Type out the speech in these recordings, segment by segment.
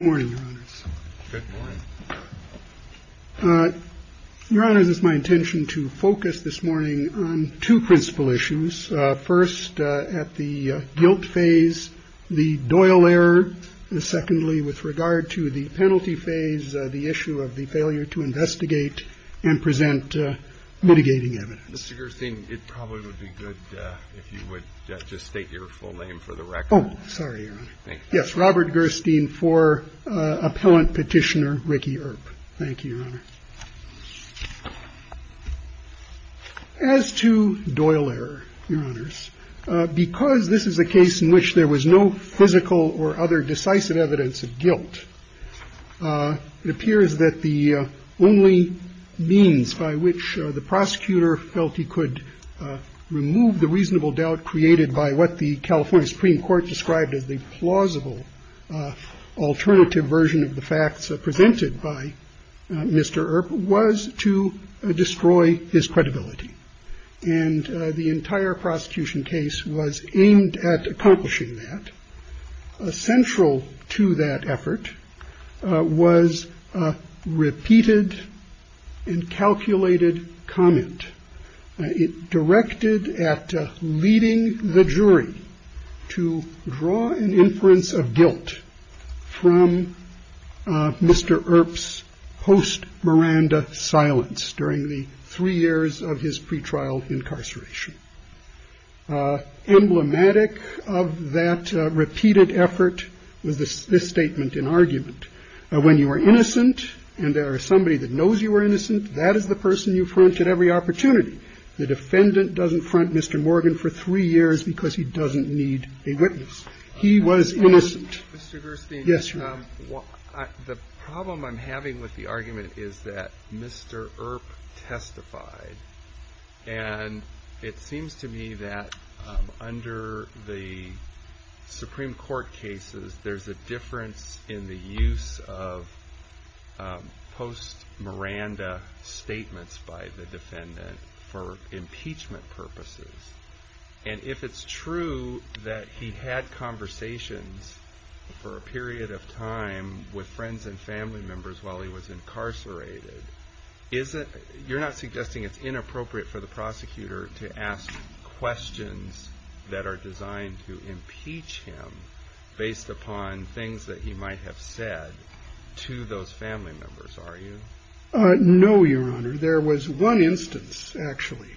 Good morning, Your Honors. Good morning. Your Honors, it is my intention to focus this morning on two principal issues. First, at the guilt phase, the Doyle error. Secondly, with regard to the penalty phase, the issue of the failure to investigate and present mitigating evidence. Mr. Gerstein, it probably would be good if you would just state your full name for the record. Oh, sorry, Your Honor. Yes, Robert Gerstein for appellant petitioner Ricky Earp. Thank you, Your Honor. As to Doyle error, Your Honors, because this is a case in which there was no physical or other decisive evidence of guilt, it appears that the only means by which the prosecutor felt he could remove the reasonable doubt created by what the California Supreme Court described as the plausible alternative version of the facts presented by Mr. Earp was to destroy his credibility. And the entire prosecution case was aimed at accomplishing that. Essential to that effort was repeated and calculated comment. It directed at leading the jury to draw an inference of guilt from Mr. Earp's host Miranda silence during the three years of his pretrial incarceration. Emblematic of that repeated effort was this statement in argument. When you are innocent and there are somebody that knows you were innocent, that is the person you front at every opportunity. The defendant doesn't front Mr. Morgan for three years because he doesn't need a witness. He was innocent. Mr. Gerstein. Yes, Your Honor. The problem I'm having with the argument is that Mr. Earp testified. And it seems to me that under the Supreme Court cases, there's a difference in the use of post-Miranda statements by the defendant for impeachment purposes. And if it's true that he had conversations for a period of time with friends and family members while he was incarcerated, you're not suggesting it's inappropriate for the prosecutor to ask questions that are designed to impeach him based upon things that he might have said to those family members, are you? No, Your Honor. There was one instance actually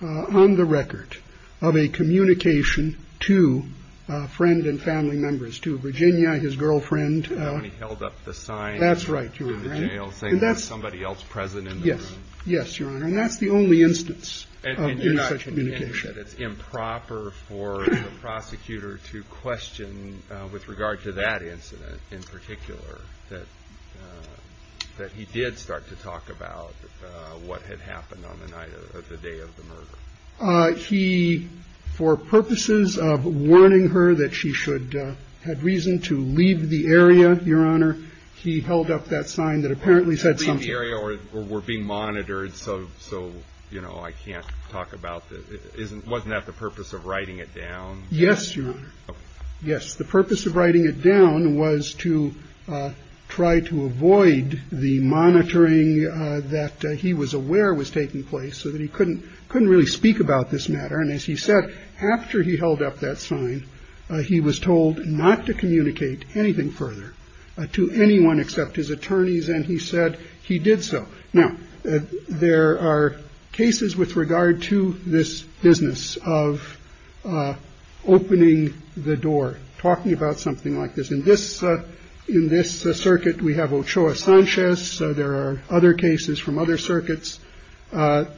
on the record of a communication to a friend and family members to Virginia, his girlfriend. And he held up the sign in the jail saying there's somebody else present in the room. Yes, Your Honor. And that's the only instance of any such communication. And you're not saying that it's improper for the prosecutor to question with regard to that incident in particular that he did start to talk about what had happened on the night of the day of the murder? No, Your Honor. He, for purposes of warning her that she should have reason to leave the area, Your Honor, he held up that sign that apparently said something. That would mean the area were being monitored, so, you know, I can't talk about that. Wasn't that the purpose of writing it down? Yes, Your Honor. Yes. The purpose of writing it down was to try to avoid the monitoring that he was aware was taking place so that he couldn't couldn't really speak about this matter. And as he said, after he held up that sign, he was told not to communicate anything further to anyone except his attorneys. And he said he did. So now there are cases with regard to this business of opening the door, talking about something like this in this in this circuit. We have Ochoa Sanchez. So there are other cases from other circuits that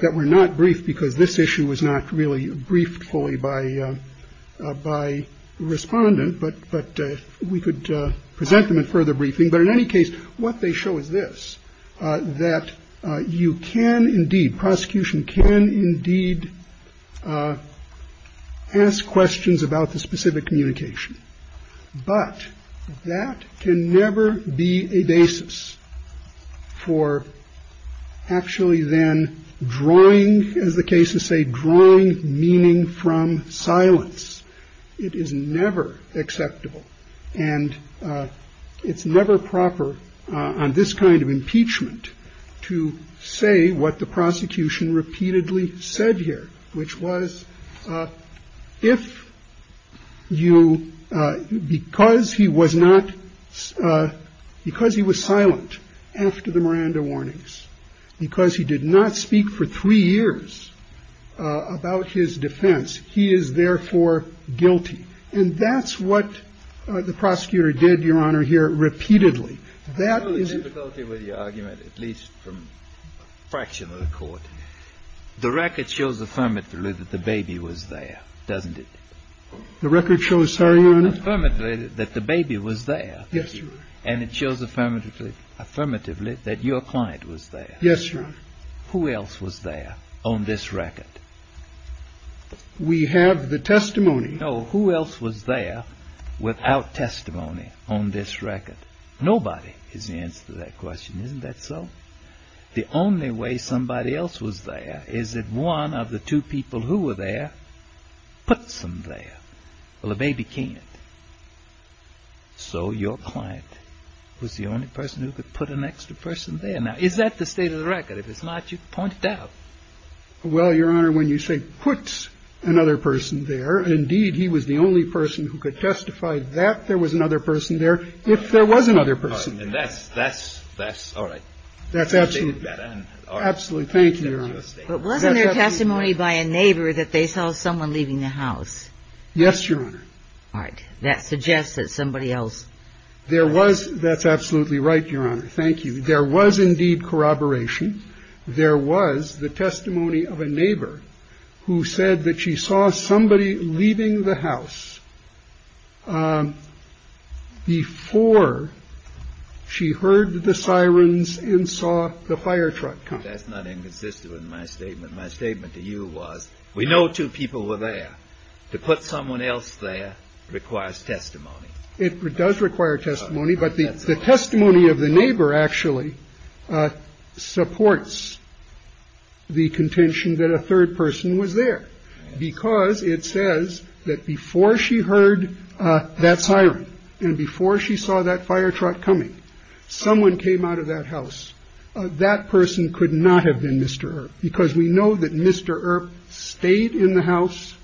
that were not briefed because this issue was not really briefed fully by by respondent. But but we could present them in further briefing. But in any case, what they show is this, that you can indeed prosecution can indeed ask questions about the specific communication. But that can never be a basis for actually then drawing, as the cases say, drawing meaning from silence. It is never acceptable and it's never proper on this kind of impeachment to say what the prosecution repeatedly said here, which was if you because he was not because he was silent after the Miranda warnings, because he did not speak for three years about his defense. He is therefore guilty. And that's what the prosecutor did, Your Honor, here repeatedly. That is a difficulty with the argument, at least from a fraction of the court. The record shows affirmatively that the baby was there, doesn't it? The record shows that the baby was there. Yes. And it shows affirmatively, affirmatively that your client was there. Yes. Who else was there on this record? We have the testimony. No. Who else was there without testimony on this record? Nobody is the answer to that question, isn't that so? The only way somebody else was there. Is it one of the two people who were there? Put some there. Well, the baby can't. So your client was the only person who could put an extra person there. Now, is that the state of the record? If it's not, you point it out. Well, Your Honor, when you say puts another person there. Indeed, he was the only person who could testify that there was another person there if there was another person. And that's that's that's all right. That's absolutely absolutely. Thank you. But wasn't there testimony by a neighbor that they saw someone leaving the house? Yes, Your Honor. All right. That suggests that somebody else. There was. That's absolutely right, Your Honor. Thank you. There was indeed corroboration. There was the testimony of a neighbor who said that she saw somebody leaving the house before she heard the sirens and saw the fire truck. That's not inconsistent with my statement. My statement to you was we know two people were there to put someone else there requires testimony. It does require testimony. But the testimony of the neighbor actually supports. The contention that a third person was there because it says that before she heard that siren and before she saw that fire truck coming, someone came out of that house. That person could not have been Mr. Because we know that Mr. Earp stayed in the house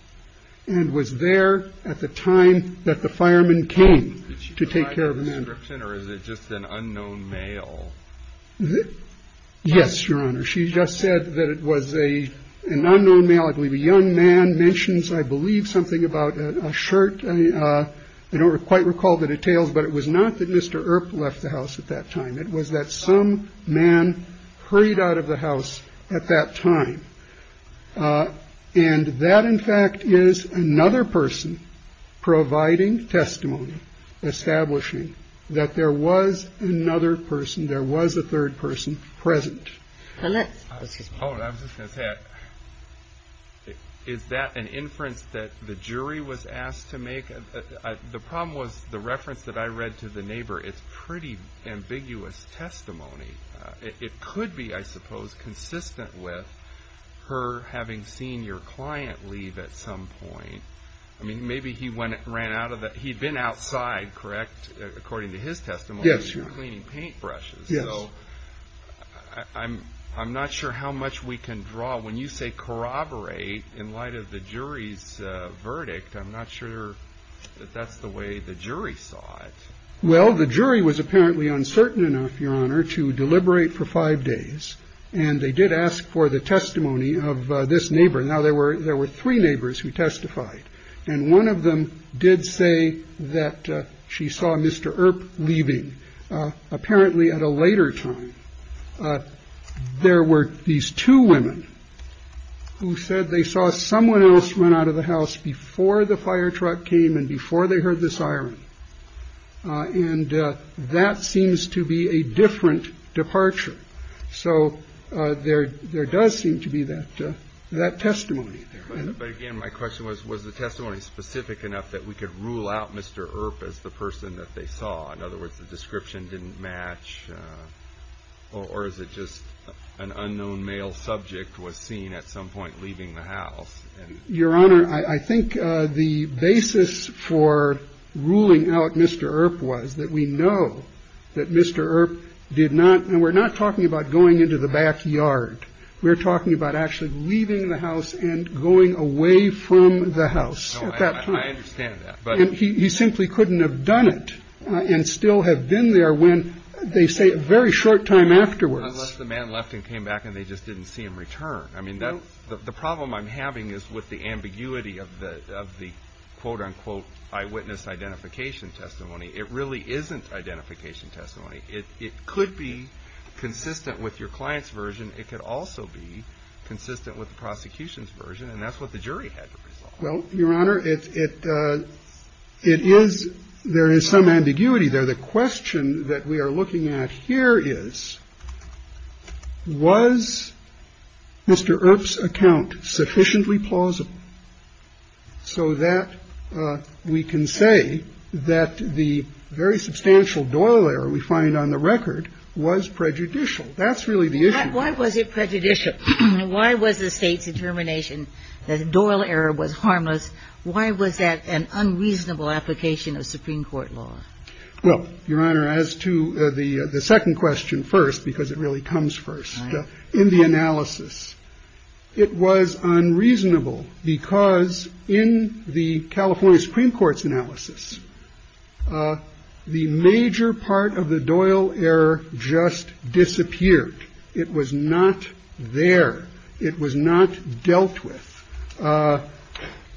and was there at the time that the fireman came to take care of him. Or is it just an unknown male? Yes, Your Honor. She just said that it was a an unknown male. I believe a young man mentions, I believe, something about a shirt. I don't quite recall the details, but it was not that Mr. Earp left the house at that time. It was that some man hurried out of the house at that time. And that, in fact, is another person providing testimony, establishing that there was another person. There was a third person present. Is that an inference that the jury was asked to make? The problem was the reference that I read to the neighbor. It's pretty ambiguous testimony. It could be, I suppose, consistent with her having seen your client leave at some point. I mean, maybe he went ran out of that. He'd been outside. Correct. According to his testimony. Yes. You're cleaning paintbrushes. Yes. I'm I'm not sure how much we can draw when you say corroborate in light of the jury's verdict. I'm not sure that that's the way the jury saw it. Well, the jury was apparently uncertain enough, Your Honor, to deliberate for five days. And they did ask for the testimony of this neighbor. Now, there were there were three neighbors who testified. And one of them did say that she saw Mr. Earp leaving. Apparently at a later time, there were these two women who said they saw someone else run out of the house before the fire truck came. And before they heard this iron. And that seems to be a different departure. So there there does seem to be that that testimony. But again, my question was, was the testimony specific enough that we could rule out Mr. Earp as the person that they saw? In other words, the description didn't match. Or is it just an unknown male subject was seen at some point leaving the house? Your Honor, I think the basis for ruling out Mr. Earp was that we know that Mr. Earp did not. And we're not talking about going into the backyard. We're talking about actually leaving the house and going away from the house. I understand that. But he simply couldn't have done it and still have been there when they say a very short time afterwards. The man left and came back and they just didn't see him return. I mean, the problem I'm having is with the ambiguity of the of the quote unquote eyewitness identification testimony. It really isn't identification testimony. It could be consistent with your client's version. It could also be consistent with the prosecution's version. And that's what the jury had. Well, Your Honor, it is. There is some ambiguity there. The question that we are looking at here is was Mr. Earp's account sufficiently plausible so that we can say that the very substantial Doyle error we find on the record was prejudicial. That's really the issue. Why was it prejudicial? Why was the state's determination that Doyle error was harmless? Why was that an unreasonable application of Supreme Court law? Well, Your Honor, as to the second question first, because it really comes first in the analysis, it was unreasonable because in the California Supreme Court's analysis, the major part of the Doyle error just disappeared. It was not there. It was not dealt with.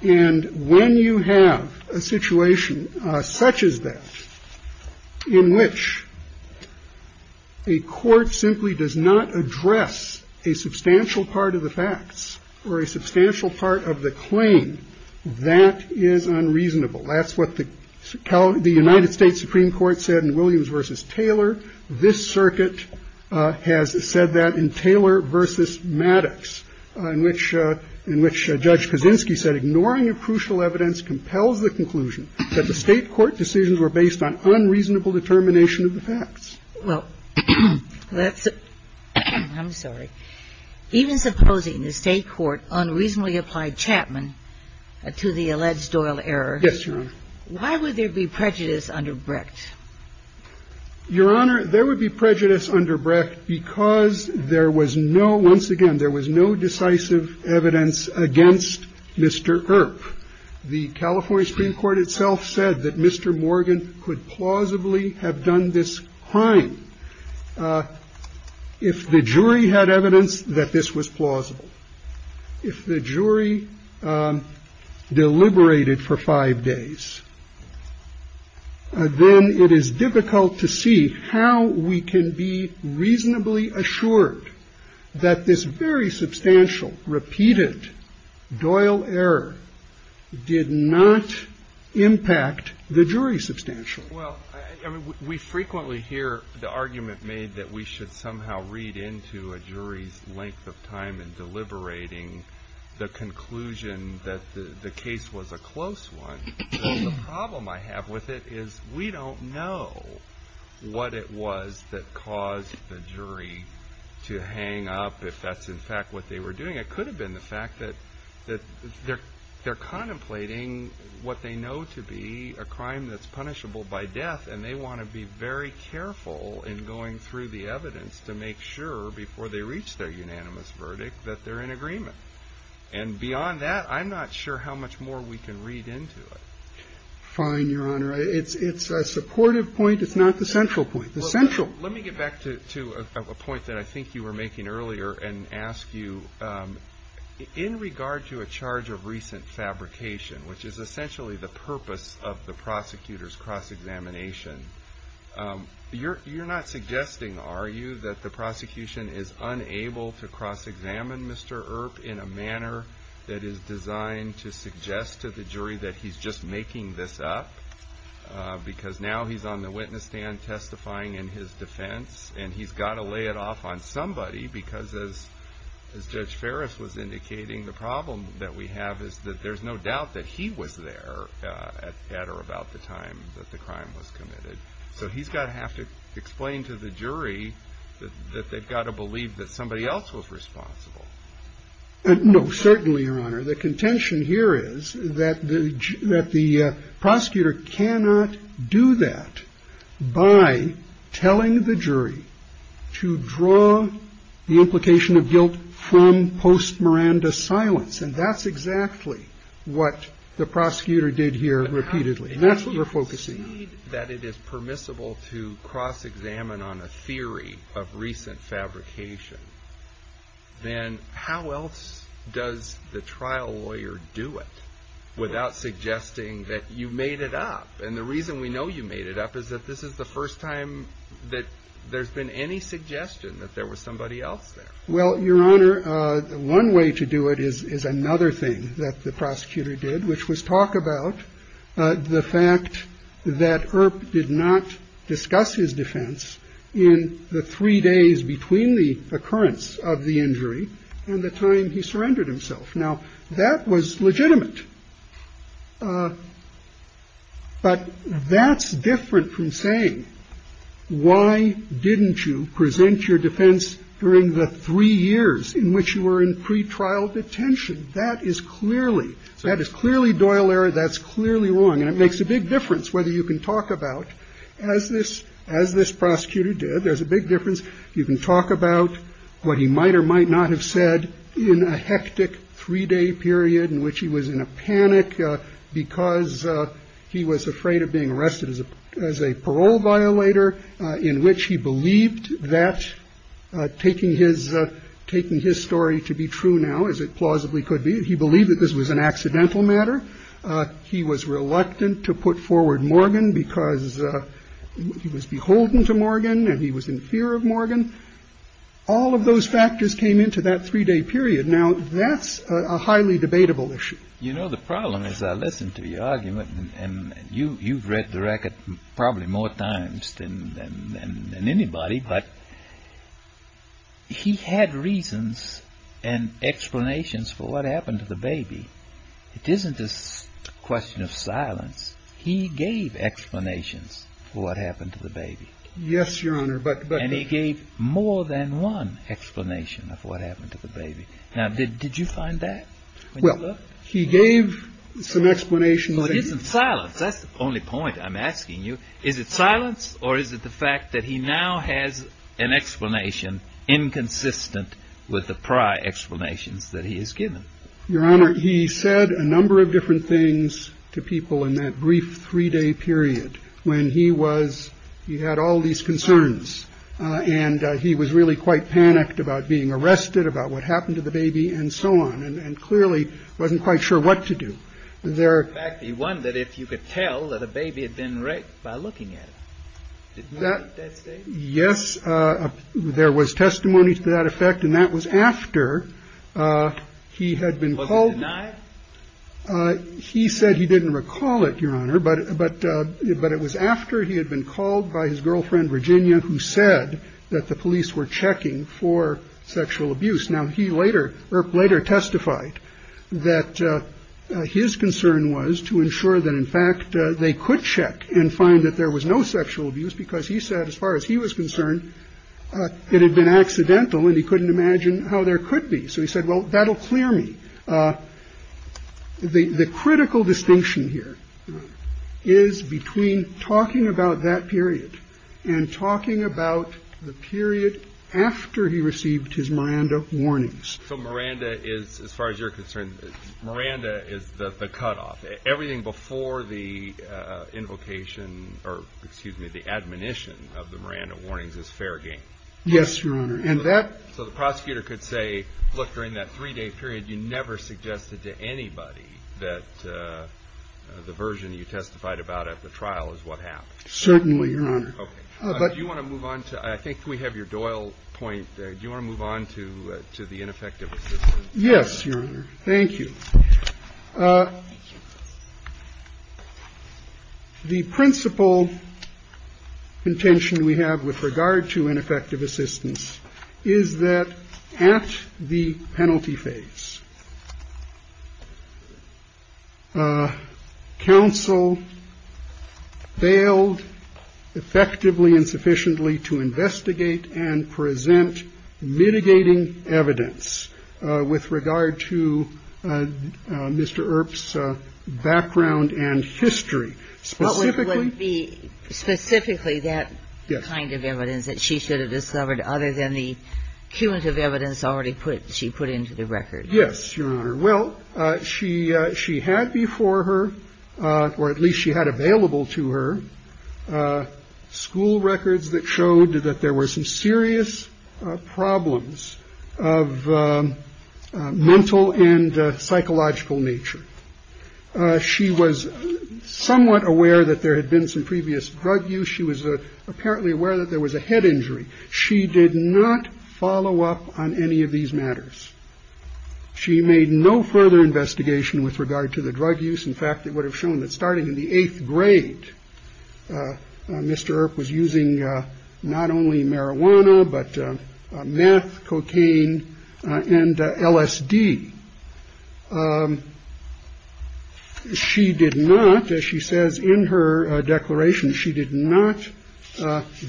And when you have a situation such as that in which a court simply does not address a substantial part of the facts or a substantial part of the claim, that is unreasonable. That's what the United States Supreme Court said in Williams versus Taylor. This circuit has said that in Taylor versus Maddox, in which Judge Kaczynski said, ignoring a crucial evidence compels the conclusion that the state court decisions were based on unreasonable determination of the facts. Well, I'm sorry. Even supposing the state court unreasonably applied Chapman to the alleged Doyle error. Yes, Your Honor. Why would there be prejudice under Bricht? Your Honor, there would be prejudice under Bricht because there was no, once again, there was no decisive evidence against Mr. Earp. The California Supreme Court itself said that Mr. Morgan could plausibly have done this crime if the jury had evidence that this was plausible. If the jury deliberated for five days, then it is difficult to see how we can be reasonably assured that this very substantial, repeated Doyle error did not impact the jury substantially. Well, I mean, we frequently hear the argument made that we should somehow read into a jury's length of time in deliberating the conclusion that the case was a close one. Well, the problem I have with it is we don't know what it was that caused the jury to hang up, if that's in fact what they were doing. It could have been the fact that they're contemplating what they know to be a crime that's punishable by death, and they want to be very careful in going through the evidence to make sure, before they reach their unanimous verdict, that they're in agreement. And beyond that, I'm not sure how much more we can read into it. Fine, Your Honor. It's a supportive point. It's not the central point. Well, let me get back to a point that I think you were making earlier and ask you, in regard to a charge of recent fabrication, which is essentially the purpose of the prosecutor's cross-examination, you're not suggesting, are you, that the prosecution is unable to cross-examine Mr. Earp in a manner that is designed to suggest to the jury that he's just making this up because now he's on the witness stand testifying in his defense, and he's got to lay it off on somebody because, as Judge Ferris was indicating, the problem that we have is that there's no doubt that he was there at or about the time that the crime was committed. So he's going to have to explain to the jury that they've got to believe that somebody else was responsible. No, certainly, Your Honor. The contention here is that the prosecutor cannot do that by telling the jury to draw the implication of guilt from post-Miranda silence, and that's exactly what the prosecutor did here repeatedly, and that's what we're focusing on. If you're saying that it is permissible to cross-examine on a theory of recent fabrication, then how else does the trial lawyer do it without suggesting that you made it up? And the reason we know you made it up is that this is the first time that there's been any suggestion that there was somebody else there. Well, Your Honor, one way to do it is another thing that the prosecutor did, which was talk about the fact that Earp did not discuss his defense in the three days between the occurrence of the injury and the time he surrendered himself. Now, that was legitimate. But that's different from saying, why didn't you present your defense during the three years in which you were in pretrial detention? That is clearly, that is clearly Doyle error. That's clearly wrong. And it makes a big difference whether you can talk about, as this prosecutor did, there's a big difference. You can talk about what he might or might not have said in a hectic three-day period in which he was in a panic because he was afraid of being arrested as a parole violator, in which he believed that taking his story to be true now, as it plausibly could be, he believed that this was an accidental matter. He was reluctant to put forward Morgan because he was beholden to Morgan and he was in fear of Morgan. All of those factors came into that three-day period. Now, that's a highly debatable issue. You know, the problem is I listened to your argument and you've read the record probably more times than anybody. But he had reasons and explanations for what happened to the baby. It isn't this question of silence. He gave explanations for what happened to the baby. Yes, Your Honor. And he gave more than one explanation of what happened to the baby. Now, did you find that? Well, he gave some explanations. But isn't silence, that's the only point I'm asking you. Is it silence or is it the fact that he now has an explanation inconsistent with the prior explanations that he has given? Your Honor, he said a number of different things to people in that brief three-day period when he was, he had all these concerns. And he was really quite panicked about being arrested, about what happened to the baby and so on. And clearly wasn't quite sure what to do there. In fact, he wondered if you could tell that a baby had been raped by looking at it. Yes. There was testimony to that effect. And that was after he had been called. He said he didn't recall it, Your Honor. But but but it was after he had been called by his girlfriend, Virginia, who said that the police were checking for sexual abuse. Now, he later later testified that his concern was to ensure that, in fact, they could check and find that there was no sexual abuse because he said as far as he was concerned, it had been accidental and he couldn't imagine how there could be. So he said, well, that'll clear me. The critical distinction here is between talking about that period and talking about the period after he received his Miranda warnings. So Miranda is, as far as you're concerned, Miranda is the cutoff. Everything before the invocation or excuse me, the admonition of the Miranda warnings is fair game. Yes, Your Honor. And that so the prosecutor could say, look, during that three day period, you never suggested to anybody that the version you testified about at the trial is what happened. Certainly. But you want to move on to I think we have your Doyle point. Do you want to move on to to the ineffective? Yes. Thank you. Thank you. The principle intention we have with regard to ineffective assistance is that at the penalty phase. Counsel failed effectively and sufficiently to investigate and present mitigating evidence with regard to Mr. Earp's background and history. Specifically, specifically that kind of evidence that she should have discovered other than the cumulative evidence already put. She put into the record. Yes, Your Honor. Well, she she had before her or at least she had available to her school records that showed that there were some serious problems of mental and psychological nature. She was somewhat aware that there had been some previous drug use. She was apparently aware that there was a head injury. She did not follow up on any of these matters. She made no further investigation with regard to the drug use. In fact, it would have shown that starting in the eighth grade, Mr. Earp was using not only marijuana, but meth, cocaine and LSD. She did not, as she says in her declaration, she did not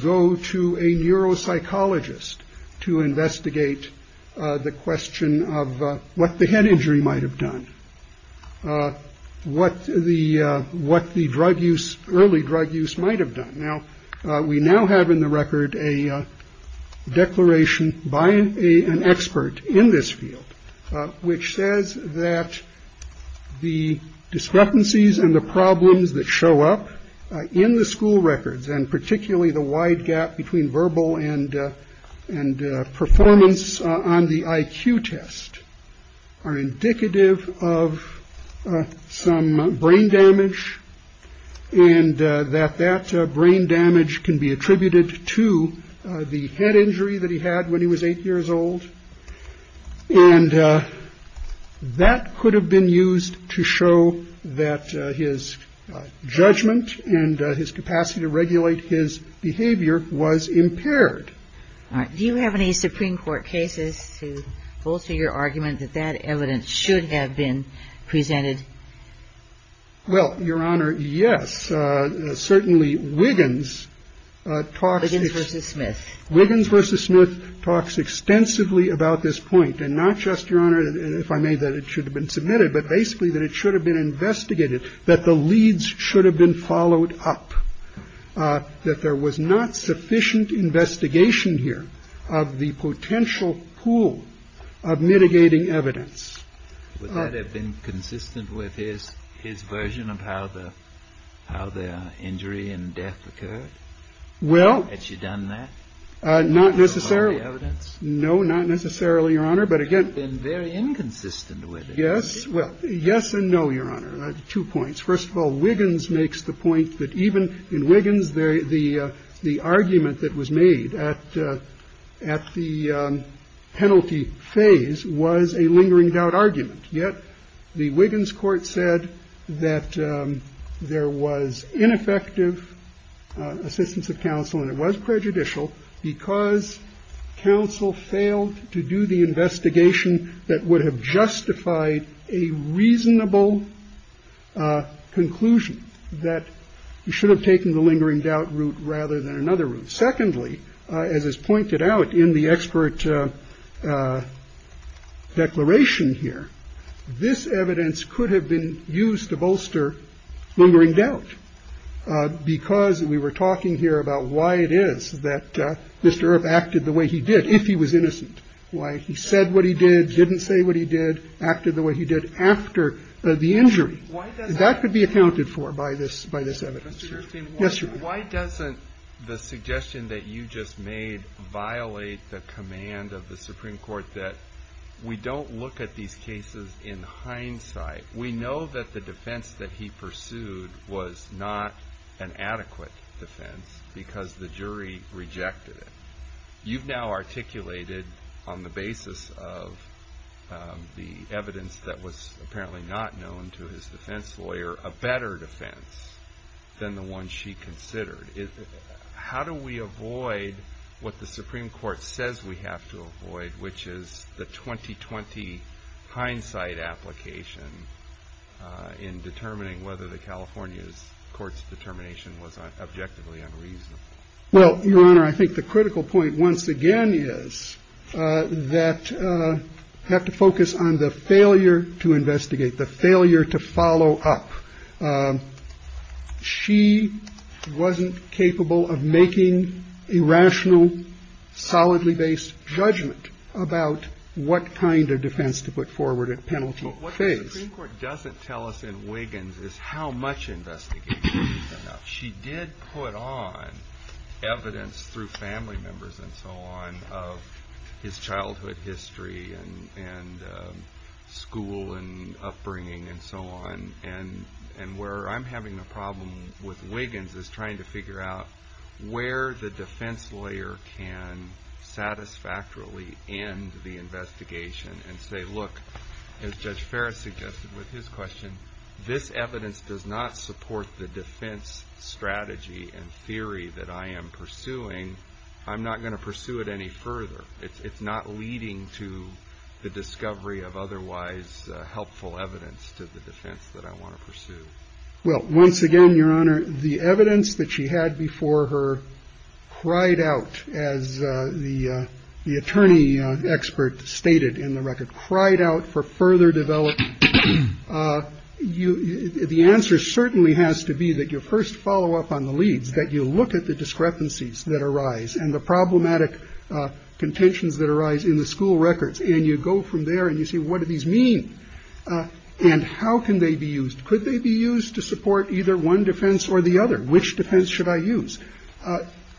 go to a neuropsychologist to investigate the question of what the head injury might have done. What the what the drug use, early drug use might have done. Now, we now have in the record a declaration by an expert in this field which says that the discrepancies and the problems that show up in the school records, and particularly the wide gap between verbal and and performance on the IQ test are indicative of some brain damage. And that that brain damage can be attributed to the head injury that he had when he was eight years old. And that could have been used to show that his judgment and his capacity to regulate his behavior was impaired. Do you have any Supreme Court cases to bolster your argument that that evidence should have been presented? Well, Your Honor, yes. Certainly Wiggins talks. Wiggins v. Smith. Wiggins v. Smith talks extensively about this point, and not just, Your Honor, if I may, that it should have been submitted, but basically that it should have been investigated, that the leads should have been followed up, that there was not sufficient investigation here of the potential pool of mitigating evidence. Would that have been consistent with his his version of how the how the injury and death occurred? Well, had she done that? Not necessarily. No, not necessarily, Your Honor. But again, very inconsistent with it. Yes. Well, yes and no. Your Honor. First of all, Wiggins makes the point that even in Wiggins, the argument that was made at the penalty phase was a lingering doubt argument. Yet the Wiggins court said that there was ineffective assistance of counsel, and it was prejudicial because counsel failed to do the investigation that would have justified a reasonable conclusion that you should have taken the lingering doubt route rather than another route. Secondly, as is pointed out in the expert declaration here, this evidence could have been used to bolster lingering doubt because we were talking here about why it is that Mr. Earp acted the way he did if he was innocent, why he said what he did, didn't say what he did, acted the way he did after the injury. And that could be accounted for by this evidence. Yes, Your Honor. Why doesn't the suggestion that you just made violate the command of the Supreme Court that we don't look at these cases in hindsight? We know that the defense that he pursued was not an adequate defense because the jury rejected it. You've now articulated on the basis of the evidence that was apparently not known to his defense lawyer a better defense than the one she considered. How do we avoid what the Supreme Court says we have to avoid, which is the 20-20 hindsight application in determining whether the California's court's determination was objectively unreasonable? Well, Your Honor, I think the critical point once again is that we have to focus on the failure to investigate, the failure to follow up. She wasn't capable of making a rational, solidly based judgment about what kind of defense to put forward at penalty phase. What the Supreme Court doesn't tell us in Wiggins is how much investigation. She did put on evidence through family members and so on of his childhood history and school and upbringing and so on. And where I'm having a problem with Wiggins is trying to figure out where the defense lawyer can satisfactorily end the investigation and say, look, as Judge Ferris suggested with his question, this evidence does not support the defense strategy and theory that I am pursuing. I'm not going to pursue it any further. It's not leading to the discovery of otherwise helpful evidence to the defense that I want to pursue. Well, once again, Your Honor, the evidence that she had before her cried out, as the attorney expert stated in the record, cried out for further development. You the answer certainly has to be that your first follow up on the leads, that you look at the discrepancies that arise and the problematic contentions that arise in the school records. And you go from there and you say, what do these mean and how can they be used? Could they be used to support either one defense or the other? Which defense should I use?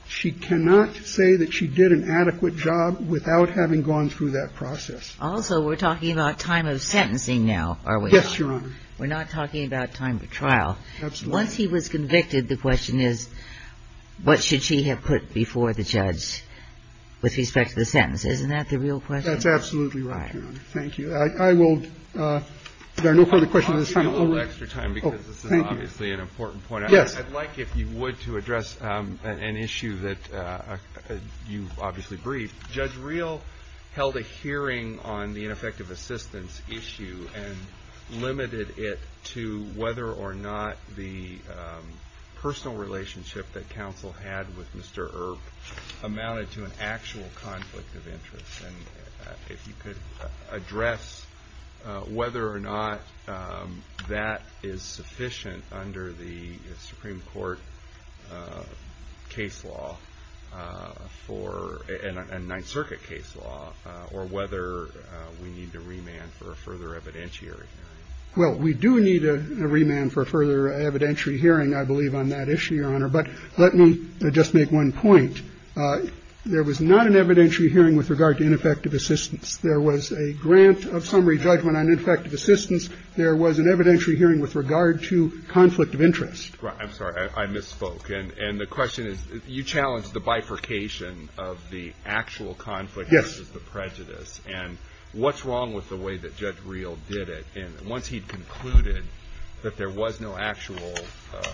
She cannot say that she did an adequate job without having gone through that process. Also, we're talking about time of sentencing now, are we not? Yes, Your Honor. We're not talking about time of trial. Absolutely. Once he was convicted, the question is, what should she have put before the judge with respect to the sentence? Isn't that the real question? That's absolutely right, Your Honor. Thank you. I will do no further questions at this time. I'll give you a little extra time because this is obviously an important point. Yes. I'd like, if you would, to address an issue that you've obviously briefed. Judge Reel held a hearing on the ineffective assistance issue and limited it to whether or not the personal relationship that counsel had with Mr. Earp amounted to an actual conflict of interest. If you could address whether or not that is sufficient under the Supreme Court case law for a Ninth Circuit case law, or whether we need to remand for a further evidentiary hearing. Well, we do need a remand for a further evidentiary hearing, I believe, on that issue, Your Honor. But let me just make one point. There was not an evidentiary hearing with regard to ineffective assistance. There was a grant of summary judgment on ineffective assistance. There was an evidentiary hearing with regard to conflict of interest. I'm sorry. I misspoke. And the question is, you challenged the bifurcation of the actual conflict versus the prejudice. And what's wrong with the way that Judge Reel did it? And once he'd concluded that there was no actual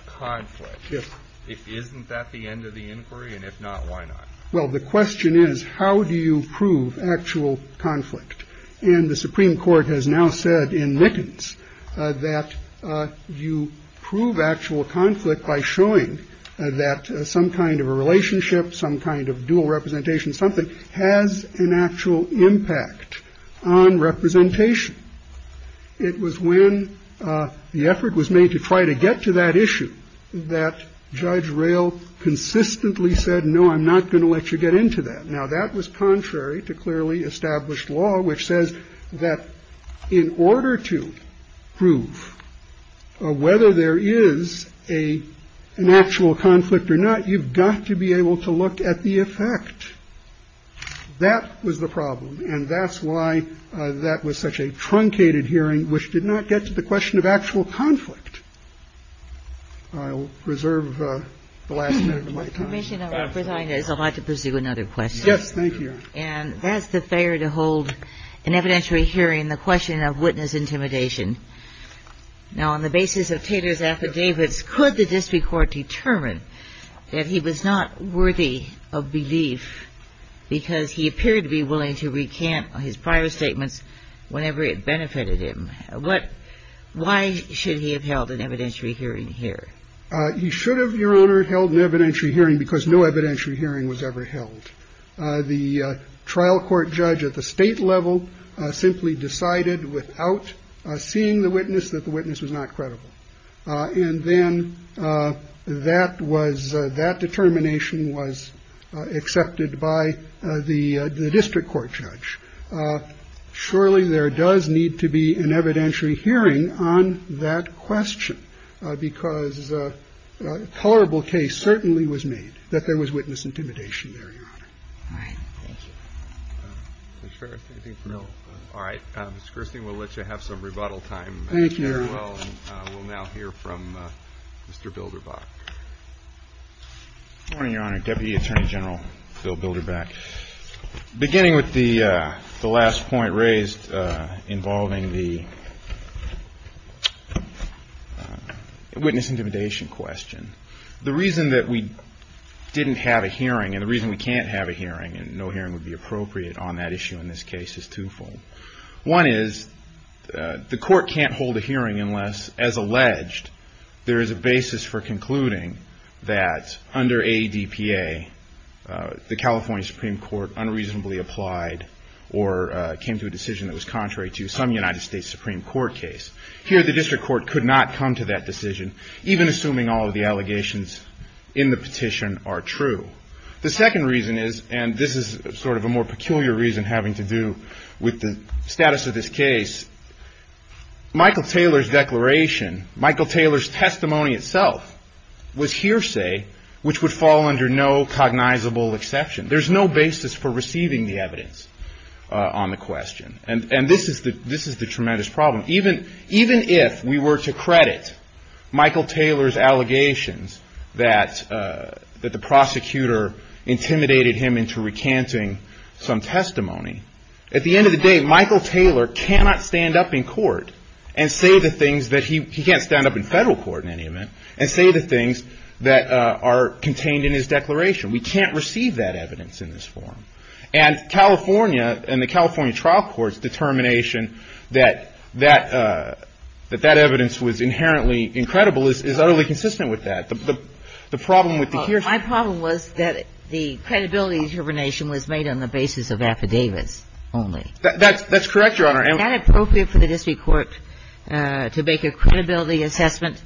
conflict, isn't that the end of the inquiry? And if not, why not? Well, the question is, how do you prove actual conflict? And the Supreme Court has now said in Mickens that you prove actual conflict by showing that some kind of a relationship, some kind of dual representation, something has an actual impact on representation. It was when the effort was made to try to get to that issue that Judge Reel consistently said, no, I'm not going to let you get into that. Now, that was contrary to clearly established law, which says that in order to prove whether there is a natural conflict or not, you've got to be able to look at the effect. That was the problem. And that's why that was such a truncated hearing, which did not get to the question of actual conflict. I'll reserve the last minute of my time. Kagan. Yes. Thank you. And that's the failure to hold an evidentiary hearing in the question of witness intimidation. Now, on the basis of Taylor's affidavits, could the district court determine that he was not worthy of belief because he appeared to be willing to recant his prior statements whenever it benefited him? Why should he have held an evidentiary hearing here? He should have, Your Honor, held an evidentiary hearing because no evidentiary hearing was ever held. The trial court judge at the state level simply decided without seeing the witness that the witness was not credible. And then that was that determination was accepted by the district court judge. Surely there does need to be an evidentiary hearing on that question, because a tolerable case certainly was made that there was witness intimidation there, Your Honor. All right. All right. Mr. Kirsten, we'll let you have some rebuttal time. Thank you. We'll now hear from Mr. Bilderbach. Good morning, Your Honor. Deputy Attorney General Bill Bilderbach. Beginning with the last point raised involving the witness intimidation question, the reason that we didn't have a hearing and the reason we can't have a hearing and no hearing would be appropriate on that issue in this case is twofold. One is the court can't hold a hearing unless, as alleged, there is a basis for concluding that under ADPA the California Supreme Court unreasonably applied or came to a decision that was contrary to some United States Supreme Court case. Here the district court could not come to that decision, even assuming all of the allegations in the petition are true. The second reason is, and this is sort of a more peculiar reason having to do with the status of this case, Michael Taylor's declaration, Michael Taylor's testimony itself was hearsay, which would fall under no cognizable exception. There's no basis for receiving the evidence on the question. And this is the tremendous problem. Even if we were to credit Michael Taylor's allegations that the prosecutor intimidated him into recanting some testimony, at the end of the day Michael Taylor cannot stand up in court and say the things that he can't stand up in federal court in any event and say the things that are contained in his declaration. We can't receive that evidence in this forum. And California and the California trial court's determination that that evidence was inherently incredible is utterly consistent with that. The problem with the hearsay. My problem was that the credibility determination was made on the basis of affidavits only. That's correct, Your Honor. Is that appropriate for the district court to make a credibility assessment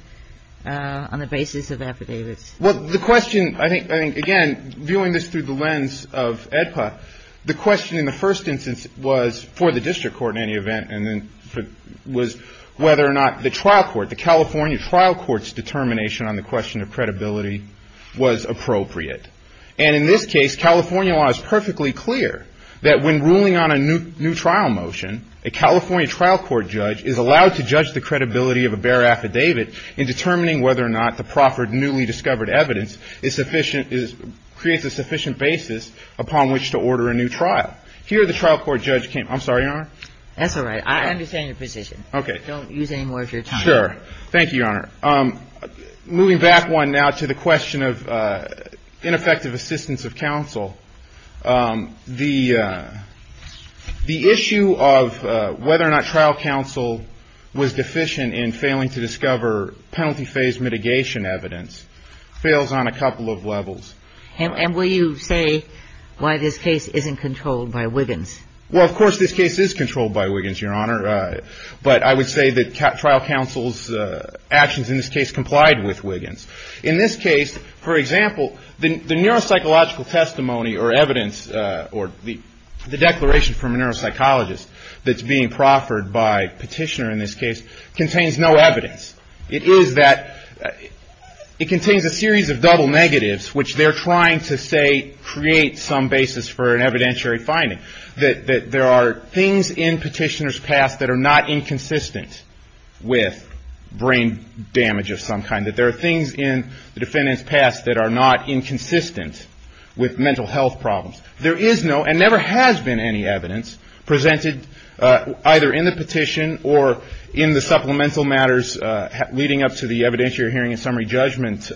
on the basis of affidavits? Well, the question, I think, again, viewing this through the lens of EDPA, the question in the first instance was for the district court in any event and then was whether or not the trial court, the California trial court's determination on the question of credibility was appropriate. And in this case California law is perfectly clear that when ruling on a new trial motion, a California trial court judge is allowed to judge the credibility of a bare affidavit in determining whether or not the proffered newly discovered evidence is sufficient, creates a sufficient basis upon which to order a new trial. Here the trial court judge came. I'm sorry, Your Honor. That's all right. I understand your position. Okay. Don't use any more of your time. Sure. Thank you, Your Honor. Moving back one now to the question of ineffective assistance of counsel. The issue of whether or not trial counsel was deficient in failing to discover penalty phase mitigation evidence fails on a couple of levels. And will you say why this case isn't controlled by Wiggins? Well, of course this case is controlled by Wiggins, Your Honor. But I would say that trial counsel's actions in this case complied with Wiggins. In this case, for example, the neuropsychological testimony or evidence or the declaration from a neuropsychologist that's being proffered by a petitioner in this case contains no evidence. It is that it contains a series of double negatives, which they're trying to say create some basis for an evidentiary finding, that there are things in petitioner's past that are not inconsistent with brain damage of some kind, that there are things in the defendant's past that are not inconsistent with mental health problems. There is no and never has been any evidence presented either in the petition or in the supplemental matters leading up to the evidentiary hearing and summary judgment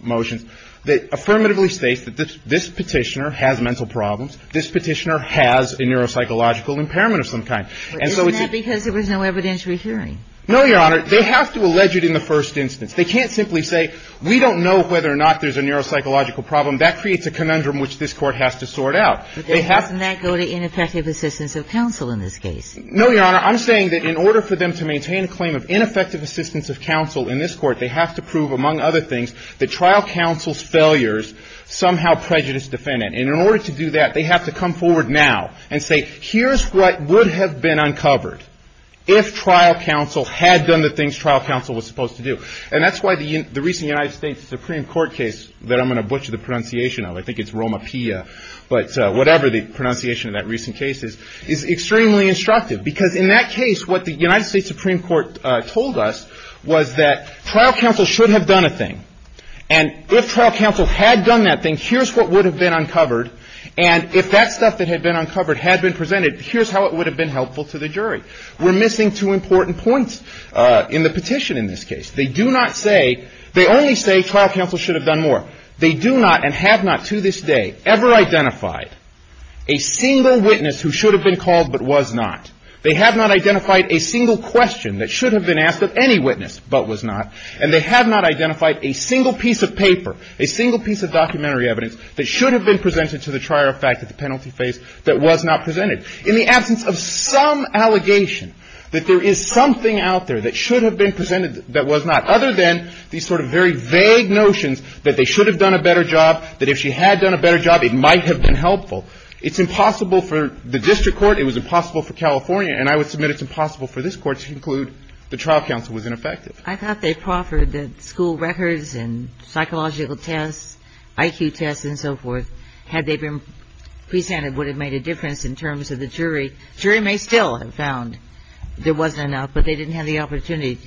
motions that affirmatively states that this petitioner has mental problems, this petitioner has a neuropsychological impairment of some kind. Isn't that because there was no evidentiary hearing? No, Your Honor. They have to allege it in the first instance. They can't simply say, we don't know whether or not there's a neuropsychological problem. That creates a conundrum which this Court has to sort out. Doesn't that go to ineffective assistance of counsel in this case? No, Your Honor. I'm saying that in order for them to maintain a claim of ineffective assistance of counsel in this Court, they have to prove, among other things, that trial counsel's failures somehow prejudiced the defendant. And in order to do that, they have to come forward now and say, here's what would have been uncovered if trial counsel had done the things trial counsel was supposed to do. And that's why the recent United States Supreme Court case that I'm going to butcher the pronunciation of, I think it's Romapilla, but whatever the pronunciation of that recent case is, is extremely instructive. Because in that case, what the United States Supreme Court told us was that trial counsel should have done a thing. And if trial counsel had done that thing, here's what would have been uncovered. And if that stuff that had been uncovered had been presented, here's how it would have been helpful to the jury. We're missing two important points in the petition in this case. They do not say, they only say trial counsel should have done more. They do not and have not to this day ever identified a single witness who should have been called but was not. They have not identified a single question that should have been asked of any witness but was not. And they have not identified a single piece of paper, a single piece of documentary evidence, that should have been presented to the trier of fact at the penalty phase that was not presented. In the absence of some allegation that there is something out there that should have been presented that was not, other than these sort of very vague notions that they should have done a better job, that if she had done a better job, it might have been helpful, it's impossible for the district court, it was impossible for California, and I would submit it's impossible for this Court to conclude the trial counsel was ineffective. I thought they proffered the school records and psychological tests, IQ tests and so forth, had they been presented would have made a difference in terms of the jury. The jury may still have found there wasn't enough, but they didn't have the opportunity.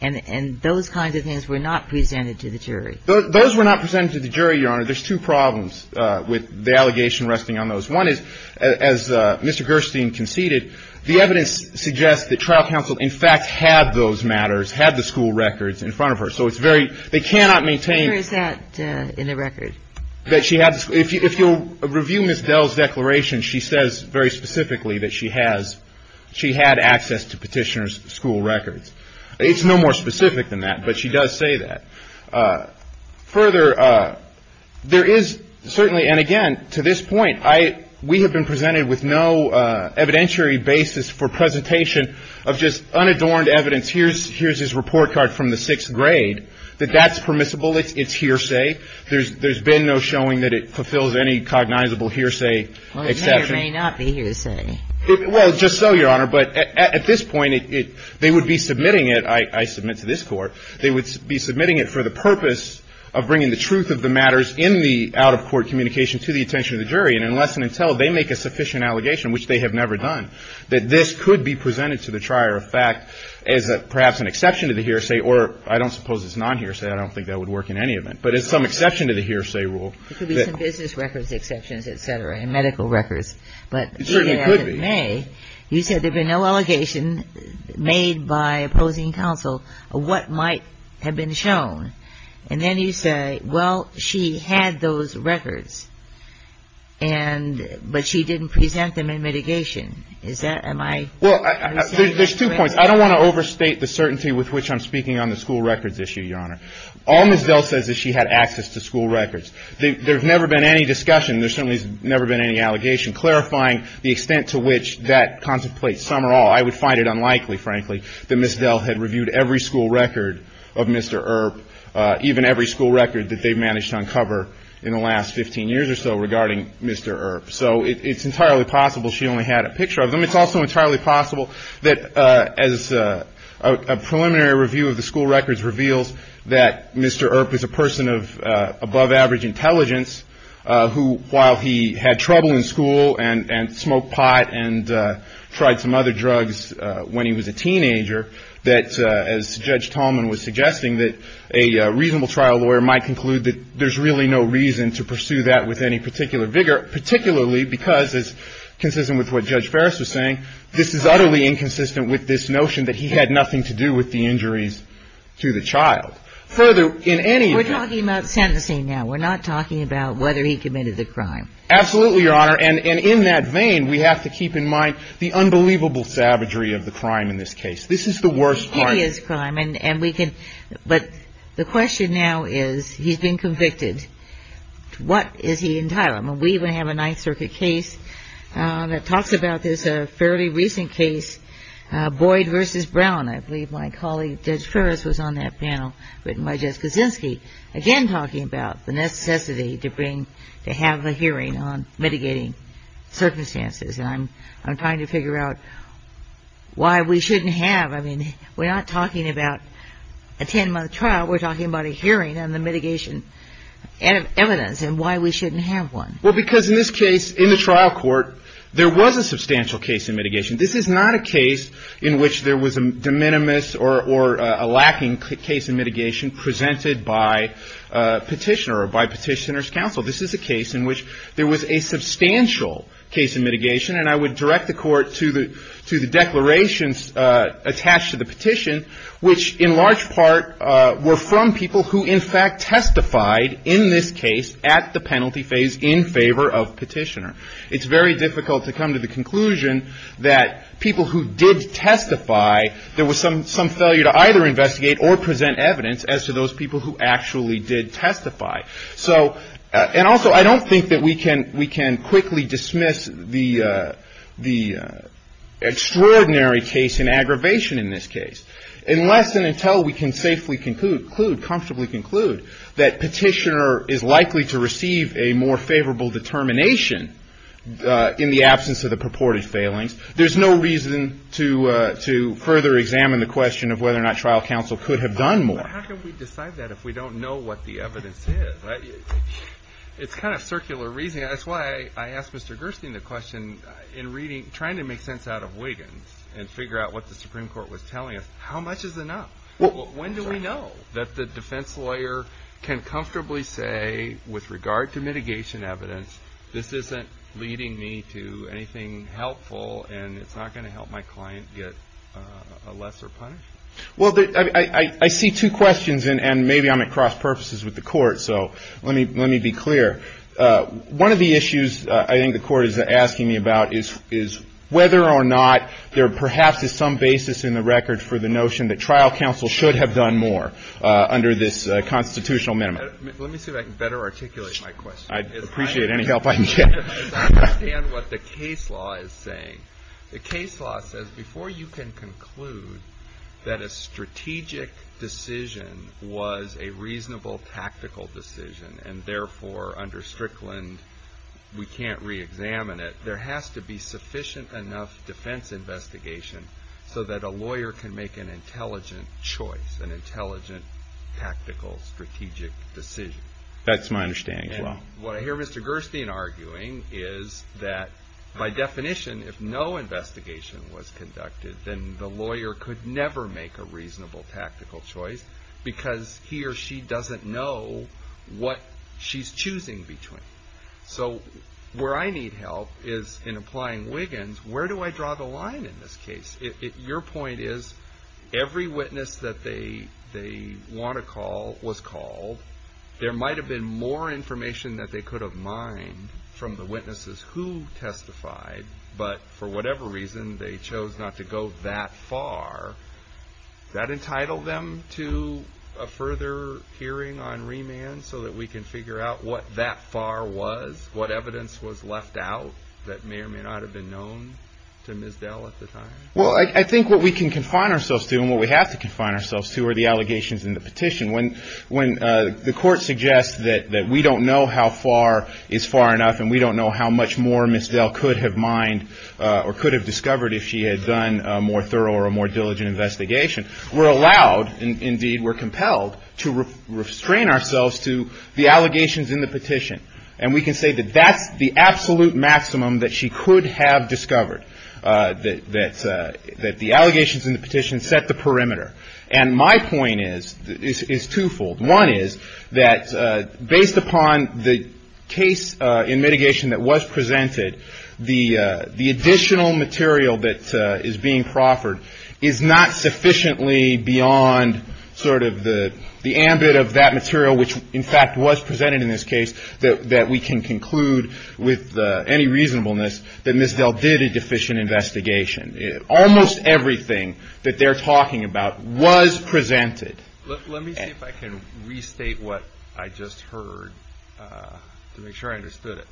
And those kinds of things were not presented to the jury. Those were not presented to the jury, Your Honor. There's two problems with the allegation resting on those. One is, as Mr. Gerstein conceded, the evidence suggests that trial counsel in fact had those matters, had the school records in front of her. Where is that in the record? If you'll review Ms. Dell's declaration, she says very specifically that she has, she had access to Petitioner's school records. It's no more specific than that, but she does say that. Further, there is certainly, and again, to this point, we have been presented with no evidentiary basis for presentation of just unadorned evidence, here's his report card from the sixth grade, that that's permissible, it's hearsay, there's been no showing that it fulfills any cognizable hearsay exception. Well, it may or may not be hearsay. Well, just so, Your Honor. But at this point, they would be submitting it, I submit to this Court, they would be submitting it for the purpose of bringing the truth of the matters in the out-of-court communication to the attention of the jury. And unless and until they make a sufficient allegation, which they have never done, that this could be presented to the trier of fact as perhaps an exception to the hearsay, or I don't suppose it's non-hearsay, I don't think that would work in any event. But it's some exception to the hearsay rule. It could be some business records exceptions, et cetera, and medical records. It certainly could be. But even as it may, you said there'd been no allegation made by opposing counsel of what might have been shown. And then you say, well, she had those records, but she didn't present them in mitigation. Is that my understanding? Well, there's two points. I don't want to overstate the certainty with which I'm speaking on the school records issue, Your Honor. All Ms. Dell says is she had access to school records. There's never been any discussion. There certainly has never been any allegation clarifying the extent to which that contemplates some or all. I would find it unlikely, frankly, that Ms. Dell had reviewed every school record of Mr. Earp, even every school record that they've managed to uncover in the last 15 years or so regarding Mr. Earp. So it's entirely possible she only had a picture of them. It's also entirely possible that as a preliminary review of the school records reveals that Mr. Earp is a person of above-average intelligence who, while he had trouble in school and smoked pot and tried some other drugs when he was a teenager, that, as Judge Tallman was suggesting, that a reasonable trial lawyer might conclude that there's really no reason to pursue that with any particular vigor, particularly because, as consistent with what Judge Ferris was saying, this is utterly inconsistent with this notion that he had nothing to do with the injuries to the child. Further, in any of your ---- We're talking about sentencing now. We're not talking about whether he committed the crime. Absolutely, Your Honor. And in that vein, we have to keep in mind the unbelievable savagery of the crime in this case. This is the worst crime. It is a crime. But the question now is, he's been convicted. What is he entitled? I mean, we even have a Ninth Circuit case that talks about this, a fairly recent case, Boyd v. Brown. I believe my colleague Judge Ferris was on that panel, written by Judge Kaczynski, again talking about the necessity to have a hearing on mitigating circumstances. And I'm trying to figure out why we shouldn't have. I mean, we're not talking about a 10-month trial. We're talking about a hearing on the mitigation evidence and why we shouldn't have one. Well, because in this case, in the trial court, there was a substantial case in mitigation. This is not a case in which there was a de minimis or a lacking case in mitigation presented by petitioner or by petitioner's counsel. This is a case in which there was a substantial case in mitigation. And I would direct the Court to the declarations attached to the petition, which in large part were from people who in fact testified in this case at the penalty phase in favor of petitioner. It's very difficult to come to the conclusion that people who did testify, there was some failure to either investigate or present evidence as to those people who actually did testify. And also, I don't think that we can quickly dismiss the extraordinary case in aggravation in this case, unless and until we can safely conclude, comfortably conclude, that petitioner is likely to receive a more favorable determination in the absence of the purported failings. There's no reason to further examine the question of whether or not trial counsel could have done more. But how can we decide that if we don't know what the evidence is? It's kind of circular reasoning. That's why I asked Mr. Gerstein the question in reading, trying to make sense out of Wiggins and figure out what the Supreme Court was telling us. How much is enough? When do we know that the defense lawyer can comfortably say, with regard to mitigation evidence, this isn't leading me to anything helpful and it's not going to help my client get a lesser punishment? Well, I see two questions, and maybe I'm at cross purposes with the Court, so let me be clear. One of the issues I think the Court is asking me about is whether or not there perhaps is some basis in the record for the notion that trial counsel should have done more under this constitutional minimum. Let me see if I can better articulate my question. I'd appreciate any help I can get. I don't understand what the case law is saying. The case law says before you can conclude that a strategic decision was a reasonable tactical decision and therefore under Strickland we can't reexamine it, there has to be sufficient enough defense investigation so that a lawyer can make an intelligent choice, an intelligent tactical strategic decision. That's my understanding as well. What I hear Mr. Gerstein arguing is that by definition if no investigation was conducted, then the lawyer could never make a reasonable tactical choice because he or she doesn't know what she's choosing between. So where I need help is in applying Wiggins, where do I draw the line in this case? Your point is every witness that they want to call was called. There might have been more information that they could have mined from the witnesses who testified, but for whatever reason they chose not to go that far. Does that entitle them to a further hearing on remand so that we can figure out what that far was, what evidence was left out that may or may not have been known to Ms. Dell at the time? Well, I think what we can confine ourselves to and what we have to confine ourselves to are the allegations in the petition. When the court suggests that we don't know how far is far enough and we don't know how much more Ms. Dell could have mined or could have discovered if she had done a more thorough or a more diligent investigation, we're allowed, and indeed we're compelled to restrain ourselves to the allegations in the petition. And we can say that that's the absolute maximum that she could have discovered, that the allegations in the petition set the perimeter. And my point is twofold. One is that based upon the case in mitigation that was presented, the additional material that is being proffered is not sufficiently beyond sort of the ambit of that material, which in fact was presented in this case, that we can conclude with any reasonableness that Ms. Dell did a deficient investigation. Almost everything that they're talking about was presented. Let me see if I can restate what I just heard to make sure I understood it.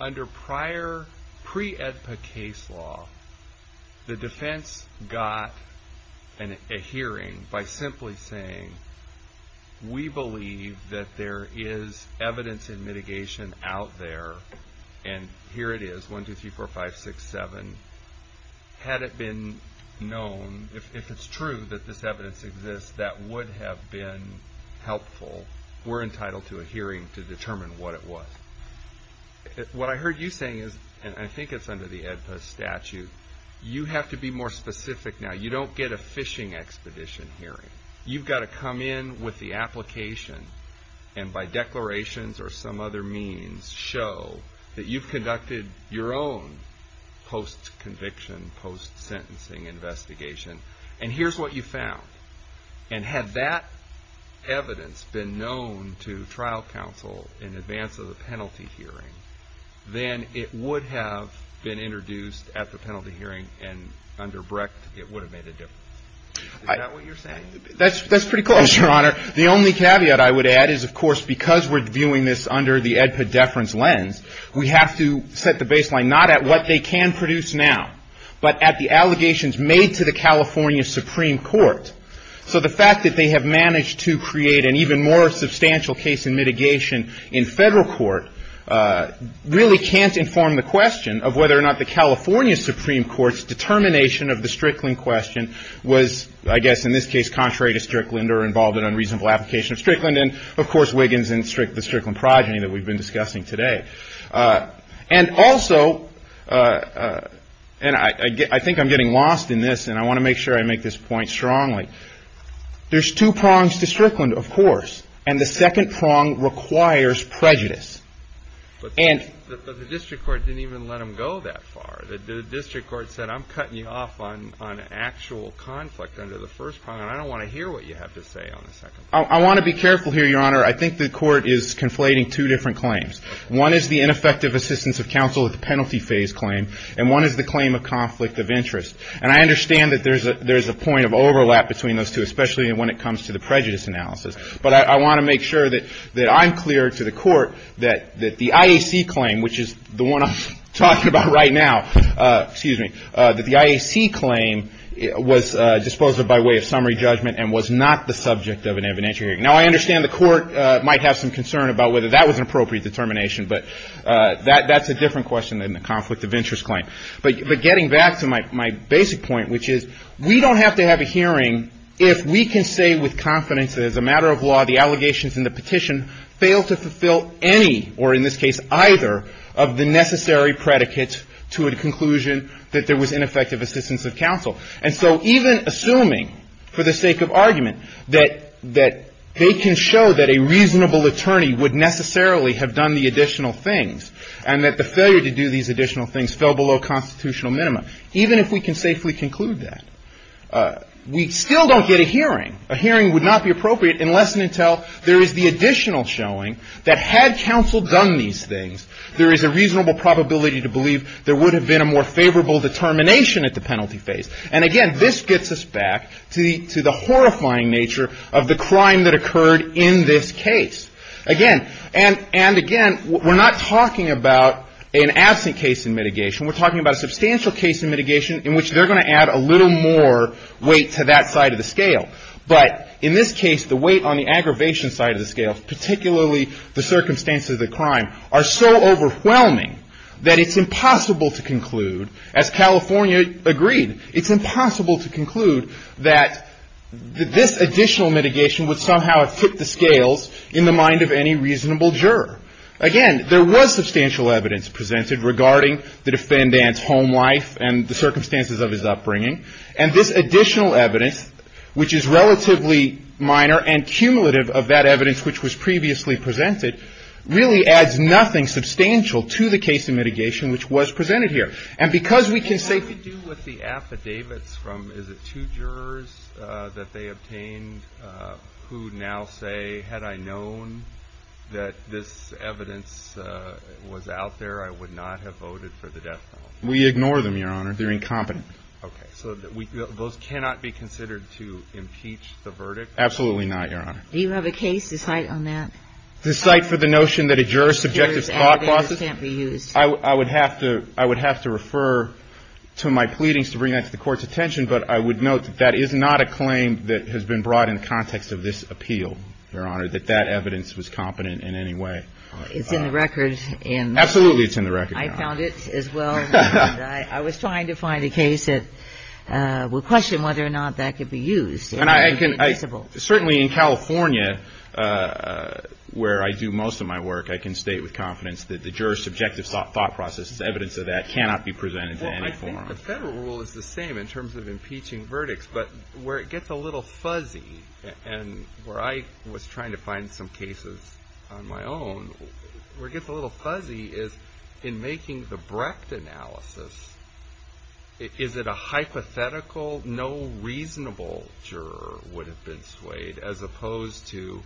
Under prior pre-AEDPA case law, the defense got a hearing by simply saying, we believe that there is evidence in mitigation out there, and here it is, 1, 2, 3, 4, 5, 6, 7. Had it been known, if it's true that this evidence exists, that would have been helpful. We're entitled to a hearing to determine what it was. What I heard you saying is, and I think it's under the AEDPA statute, you have to be more specific now. You don't get a fishing expedition hearing. You've got to come in with the application, and by declarations or some other means, show that you've conducted your own post-conviction, post-sentencing investigation, and here's what you found. And had that evidence been known to trial counsel in advance of the penalty hearing, then it would have been introduced at the penalty hearing, and under BREC, it would have made a difference. Is that what you're saying? That's pretty close, Your Honor. The only caveat I would add is, of course, because we're viewing this under the AEDPA deference lens, we have to set the baseline not at what they can produce now, but at the allegations made to the California Supreme Court. So the fact that they have managed to create an even more substantial case in mitigation in federal court really can't inform the question of whether or not the California Supreme Court's determination of the Strickland question was, I guess in this case, contrary to Strickland or involved in unreasonable application of Strickland, and, of course, Wiggins and the Strickland progeny that we've been discussing today. And also, and I think I'm getting lost in this, and I want to make sure I make this point strongly, there's two prongs to Strickland, of course, and the second prong requires prejudice. But the district court didn't even let them go that far. The district court said, I'm cutting you off on actual conflict under the first prong, and I don't want to hear what you have to say on the second prong. I want to be careful here, Your Honor. I think the court is conflating two different claims. One is the ineffective assistance of counsel at the penalty phase claim, and one is the claim of conflict of interest. And I understand that there's a point of overlap between those two, especially when it comes to the prejudice analysis. But I want to make sure that I'm clear to the court that the IAC claim, which is the one I'm talking about right now, excuse me, that the IAC claim was disposed of by way of summary judgment and was not the subject of an evidentiary hearing. Now, I understand the court might have some concern about whether that was an appropriate determination, but that's a different question than the conflict of interest claim. But getting back to my basic point, which is, we don't have to have a hearing if we can say with confidence that as a matter of law, the allegations in the petition fail to fulfill any, or in this case, either of the necessary predicates to a conclusion that there was ineffective assistance of counsel. And so even assuming, for the sake of argument, that they can show that a reasonable attorney would necessarily have done the additional things and that the failure to do these additional things fell below constitutional minimum, even if we can safely conclude that, we still don't get a hearing. A hearing would not be appropriate unless and until there is the additional showing that had counsel done these things, there is a reasonable probability to believe there would have been a more favorable determination at the penalty phase. And again, this gets us back to the horrifying nature of the crime that occurred in this case. Again, and again, we're not talking about an absent case in mitigation, we're talking about a substantial case in mitigation in which they're going to add a little more weight to that side of the scale. But in this case, the weight on the aggravation side of the scale, particularly the circumstances of the crime, are so overwhelming that it's impossible to conclude, as California agreed, it's impossible to conclude that this additional mitigation would somehow have tipped the scales in the mind of any reasonable juror. Again, there was substantial evidence presented regarding the defendant's home life and the circumstances of his upbringing. And this additional evidence, which is relatively minor and cumulative of that evidence which was previously presented, really adds nothing substantial to the case in mitigation which was presented here. And because we can safely do with the affidavits from, is it two jurors that they obtained who now say, had I known that this evidence was out there, I would not have voted for the death penalty? We ignore them, Your Honor. They're incompetent. Okay. So those cannot be considered to impeach the verdict? Absolutely not, Your Honor. Do you have a case to cite on that? To cite for the notion that a juror's subjective thought process? Can't be used. I would have to refer to my pleadings to bring that to the Court's attention, but I would note that that is not a claim that has been brought in the context of this appeal, Your Honor, that that evidence was competent in any way. It's in the record. Absolutely it's in the record. I found it as well. I was trying to find a case that would question whether or not that could be used. Certainly in California, where I do most of my work, I can state with confidence that the juror's subjective thought process, evidence of that, cannot be presented in any form. Well, I think the federal rule is the same in terms of impeaching verdicts, but where it gets a little fuzzy, and where I was trying to find some cases on my own, where it gets a little fuzzy is in making the Brecht analysis, is it a hypothetical, no reasonable juror would have been swayed, as opposed to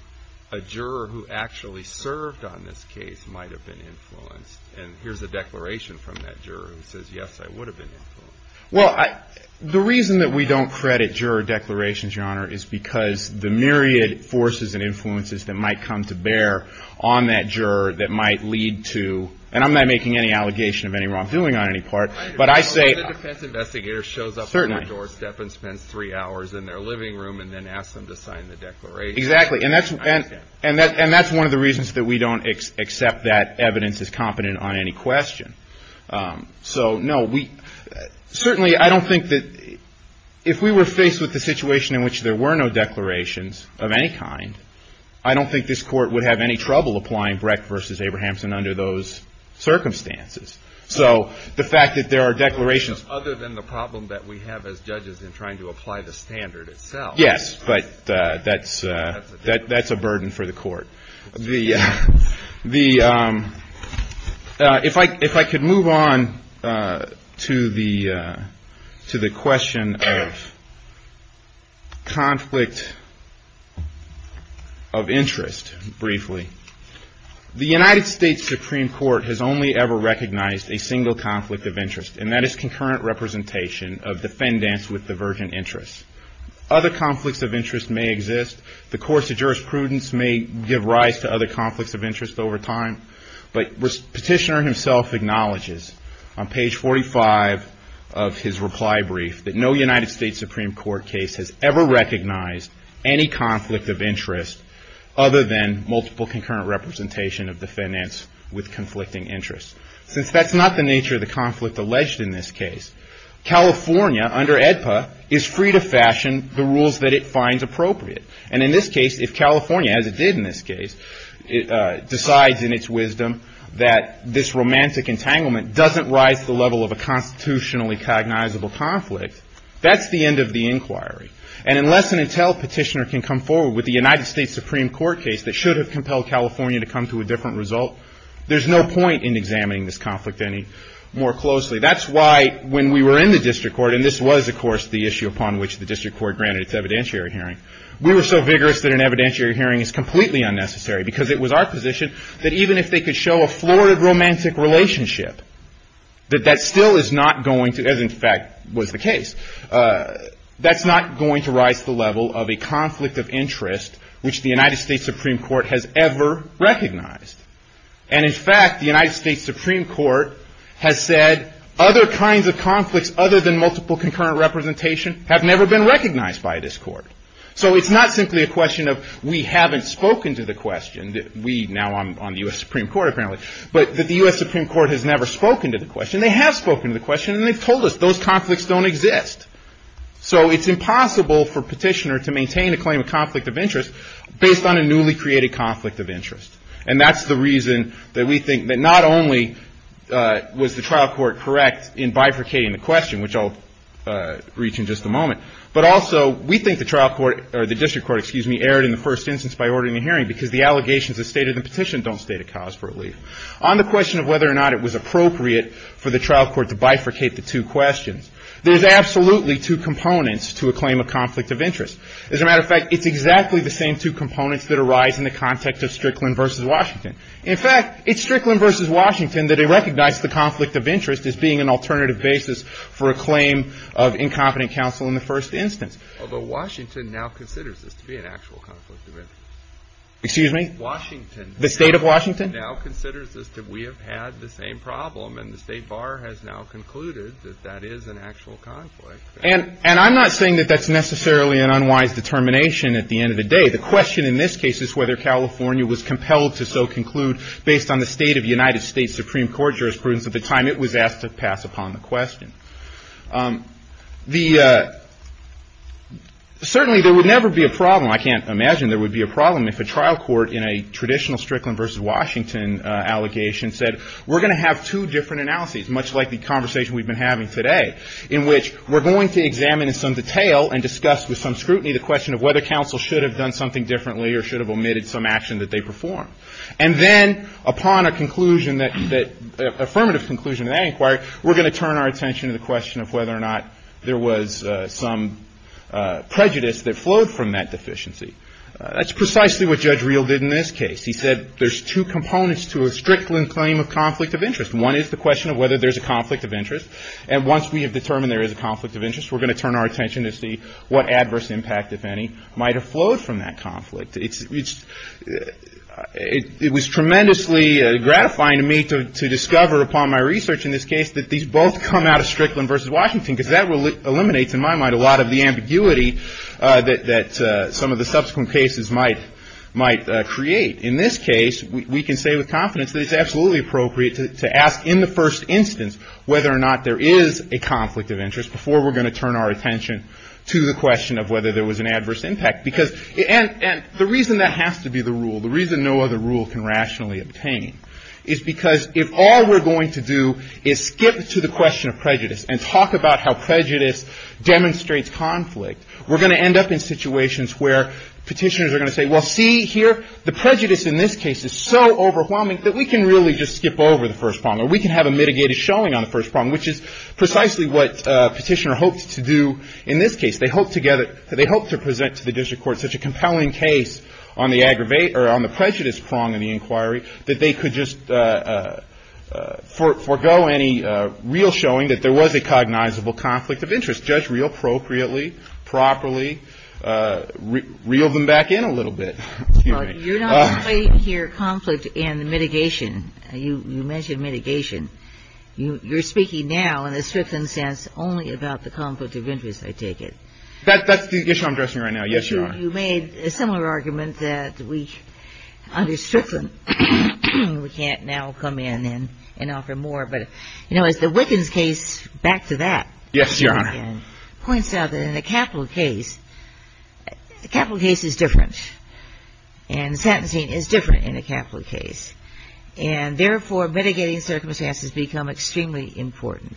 a juror who actually served on this case might have been influenced. And here's a declaration from that juror who says, yes, I would have been influenced. Well, the reason that we don't credit juror declarations, Your Honor, is because the myriad forces and influences that might come to bear on that juror that might lead to, and I'm not making any allegation of any wrongdoing on any part. The defense investigator shows up at my doorstep and spends three hours in their living room and then asks them to sign the declaration. Exactly. And that's one of the reasons that we don't accept that evidence is competent on any question. So, no, certainly I don't think that if we were faced with the situation in which there were no declarations of any kind, I don't think this Court would have any trouble applying Brecht v. Abrahamson under those circumstances. So the fact that there are declarations. Other than the problem that we have as judges in trying to apply the standard itself. Yes, but that's a burden for the Court. If I could move on to the question of conflict of interest briefly. The United States Supreme Court has only ever recognized a single conflict of interest, and that is concurrent representation of defendants with divergent interests. Other conflicts of interest may exist. The course of jurisprudence may give rise to other conflicts of interest over time, but Petitioner himself acknowledges on page 45 of his reply brief that no United States Supreme Court case has ever recognized any conflict of interest other than multiple concurrent representation of defendants with conflicting interests. Since that's not the nature of the conflict alleged in this case, California under AEDPA is free to fashion the rules that it finds appropriate. And in this case, if California, as it did in this case, decides in its wisdom that this romantic entanglement doesn't rise to the level of a constitutionally cognizable conflict, that's the end of the inquiry. And unless and until Petitioner can come forward with the United States Supreme Court case that should have compelled California to come to a different result, there's no point in examining this conflict any more closely. That's why when we were in the District Court, and this was, of course, the issue upon which the District Court granted its evidentiary hearing, we were so vigorous that an evidentiary hearing is completely unnecessary because it was our position that even if they could show a florid romantic relationship, that that still is not going to, as in fact was the case, that's not going to rise to the level of a conflict of interest which the United States Supreme Court has ever recognized. And in fact, the United States Supreme Court has said other kinds of conflicts other than multiple concurrent representation have never been recognized by this court. So it's not simply a question of we haven't spoken to the question. We, now I'm on the U.S. Supreme Court apparently, but that the U.S. Supreme Court has never spoken to the question. They have spoken to the question, and they've told us those conflicts don't exist. So it's impossible for a petitioner to maintain a claim of conflict of interest based on a newly created conflict of interest. And that's the reason that we think that not only was the trial court correct in bifurcating the question, which I'll reach in just a moment, but also we think the trial court, or the District Court, excuse me, erred in the first instance by ordering a hearing because the allegations that stated in the petition don't state a cause for relief. On the question of whether or not it was appropriate for the trial court to bifurcate the two questions, there's absolutely two components to a claim of conflict of interest. As a matter of fact, it's exactly the same two components that arise in the context of Strickland v. Washington. In fact, it's Strickland v. Washington that it recognized the conflict of interest as being an alternative basis for a claim of incompetent counsel in the first instance. Although Washington now considers this to be an actual conflict of interest. Excuse me? Washington. The State of Washington? Now considers this that we have had the same problem, and the State Bar has now concluded that that is an actual conflict. And I'm not saying that that's necessarily an unwise determination at the end of the day. The question in this case is whether California was compelled to so conclude based on the State of the United States Supreme Court jurisprudence at the time it was asked to pass upon the question. Certainly there would never be a problem, I can't imagine there would be a problem, if a trial court in a traditional Strickland v. Washington allegation said, we're going to have two different analyses, much like the conversation we've been having today, in which we're going to examine in some detail and discuss with some scrutiny the question of whether counsel should have done something differently or should have omitted some action that they performed. And then upon a conclusion that, affirmative conclusion of that inquiry, we're going to turn our attention to the question of whether or not there was some prejudice that flowed from that deficiency. That's precisely what Judge Reel did in this case. He said there's two components to a Strickland claim of conflict of interest. One is the question of whether there's a conflict of interest. And once we have determined there is a conflict of interest, we're going to turn our attention to see what adverse impact, if any, might have flowed from that conflict. It was tremendously gratifying to me to discover upon my research in this case that these both come out of Strickland v. Washington, because that eliminates in my mind a lot of the ambiguity that some of the subsequent cases might create. In this case, we can say with confidence that it's absolutely appropriate to ask in the first instance whether or not there is a conflict of interest before we're going to turn our attention to the question of whether there was an adverse impact. And the reason that has to be the rule, the reason no other rule can rationally obtain, is because if all we're going to do is skip to the question of prejudice and talk about how prejudice demonstrates conflict, we're going to end up in situations where Petitioners are going to say, well, see here, the prejudice in this case is so overwhelming that we can really just skip over the first problem, or we can have a mitigated showing on the first problem, which is precisely what Petitioner hoped to do in this case. They hoped to present to the district court such a compelling case on the prejudice prong in the inquiry that they could just forego any real showing that there was a cognizable conflict of interest, just real appropriately, properly, reel them back in a little bit. Excuse me. You're not explaining here conflict and mitigation. You mentioned mitigation. You're speaking now in a Strickland sense only about the conflict of interest, I take it. That's the issue I'm addressing right now. Yes, Your Honor. You made a similar argument that we, under Strickland, we can't now come in and offer more. But, you know, as the Wickens case, back to that. Yes, Your Honor. Points out that in a capital case, the capital case is different, and the sentencing is different in a capital case, and therefore mitigating circumstances become extremely important.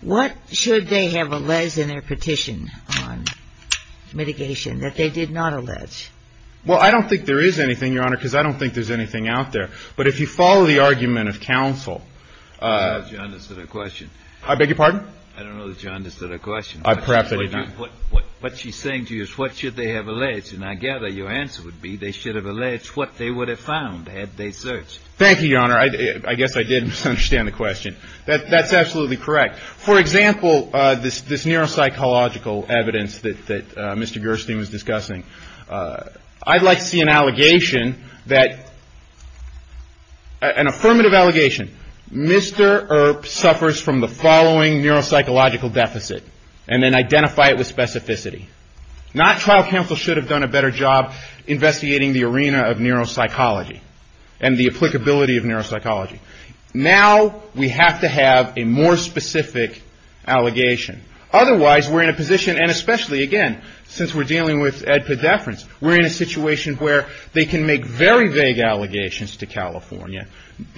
What should they have alleged in their petition on mitigation that they did not allege? Well, I don't think there is anything, Your Honor, because I don't think there's anything out there. But if you follow the argument of counsel. I don't know that you understood her question. I beg your pardon? I don't know that you understood her question. Perhaps I did not. What she's saying to you is what should they have alleged, and I gather your answer would be they should have alleged what they would have found had they searched. Thank you, Your Honor. I guess I did misunderstand the question. That's absolutely correct. For example, this neuropsychological evidence that Mr. Gerstein was discussing. I'd like to see an allegation, an affirmative allegation. Mr. Earp suffers from the following neuropsychological deficit, and then identify it with specificity. Not trial counsel should have done a better job investigating the arena of neuropsychology and the applicability of neuropsychology. Now we have to have a more specific allegation. Otherwise, we're in a position, and especially, again, since we're dealing with EDPA deference, we're in a situation where they can make very vague allegations to California.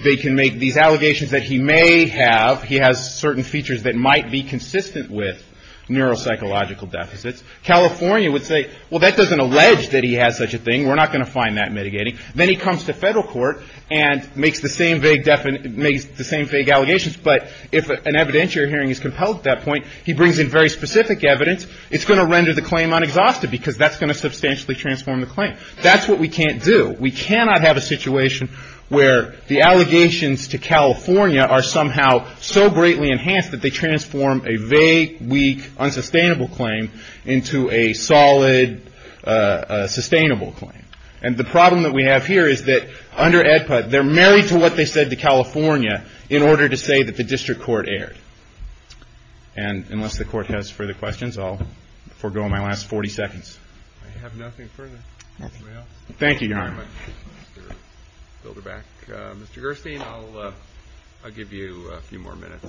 They can make these allegations that he may have, he has certain features that might be consistent with neuropsychological deficits. California would say, well, that doesn't allege that he has such a thing. We're not going to find that mitigating. Then he comes to federal court and makes the same vague allegations, but if an evidentiary hearing is compelled at that point, he brings in very specific evidence. It's going to render the claim unexhausted because that's going to substantially transform the claim. That's what we can't do. We cannot have a situation where the allegations to California are somehow so greatly enhanced that they transform a vague, weak, unsustainable claim into a solid, sustainable claim. And the problem that we have here is that under EDPA, they're married to what they said to California in order to say that the district court erred. And unless the court has further questions, I'll forego my last 40 seconds. I have nothing further. Thank you, Your Honor. Mr. Gerstein, I'll give you a few more minutes.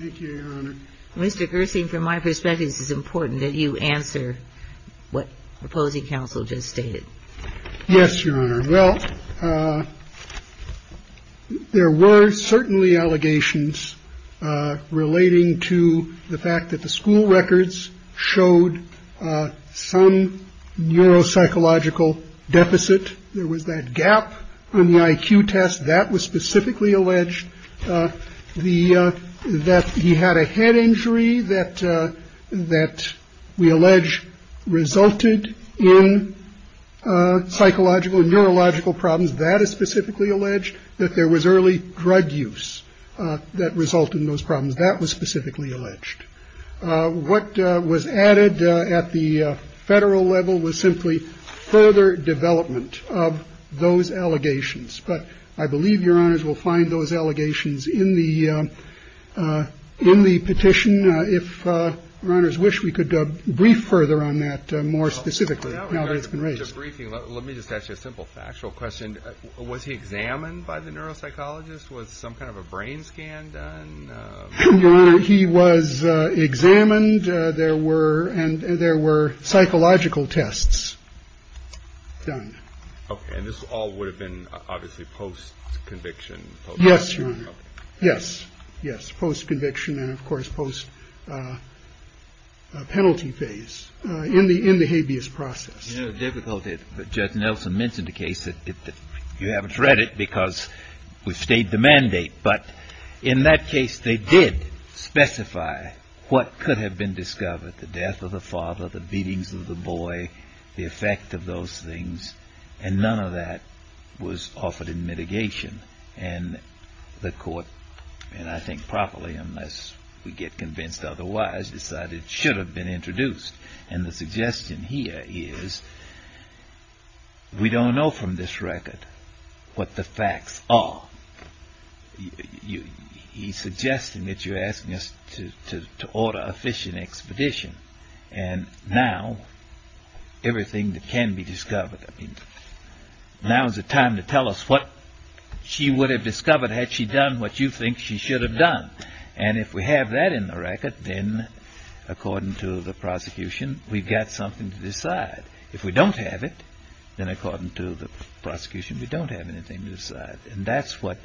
Thank you, Your Honor. Mr. Gerstein, from my perspective, this is important that you answer what opposing counsel just stated. Yes, Your Honor. Well, there were certainly allegations relating to the fact that the school records showed some neuropsychological deficit. There was that gap in the IQ test that was specifically alleged. The that he had a head injury that that we allege resulted in psychological neurological problems. That is specifically alleged that there was early drug use that result in those problems. That was specifically alleged. What was added at the federal level was simply further development of those allegations. But I believe your honors will find those allegations in the in the petition. If runners wish, we could brief further on that more specifically. Now that it's been raised, let me just ask you a simple factual question. Was he examined by the neuropsychologist? Was some kind of a brain scan done? He was examined. There were and there were psychological tests done. And this all would have been obviously post conviction. Yes. Yes. Yes. Post conviction. And of course, post penalty phase in the in the habeas process. Difficult. Judge Nelson mentioned a case that you haven't read it because we stayed the mandate. But in that case, they did specify what could have been discovered. The death of the father, the beatings of the boy, the effect of those things. And none of that was offered in mitigation. And the court, and I think properly, unless we get convinced otherwise, decided it should have been introduced. And the suggestion here is we don't know from this record what the facts are. He's suggesting that you're asking us to order a fishing expedition. And now everything that can be discovered. Now is the time to tell us what she would have discovered had she done what you think she should have done. And if we have that in the record, then according to the prosecution, we've got something to decide. If we don't have it, then according to the prosecution, we don't have anything to decide. And that's what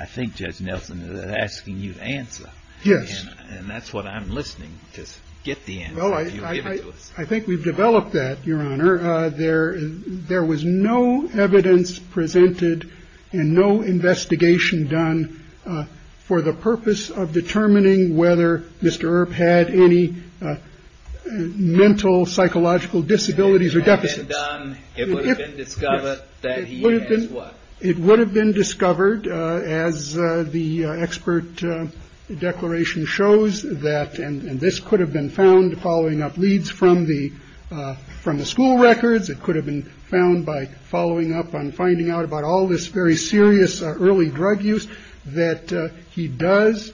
I think Judge Nelson is asking you to answer. Yes. And that's what I'm listening to. Get the end. I think we've developed that, Your Honor. There there was no evidence presented and no investigation done for the purpose of determining whether Mr. Earp had any mental, psychological disabilities or deficit. It would have been discovered that it would have been discovered as the expert declaration shows that. And this could have been found following up leads from the from the school records. It could have been found by following up on finding out about all this very serious early drug use. He does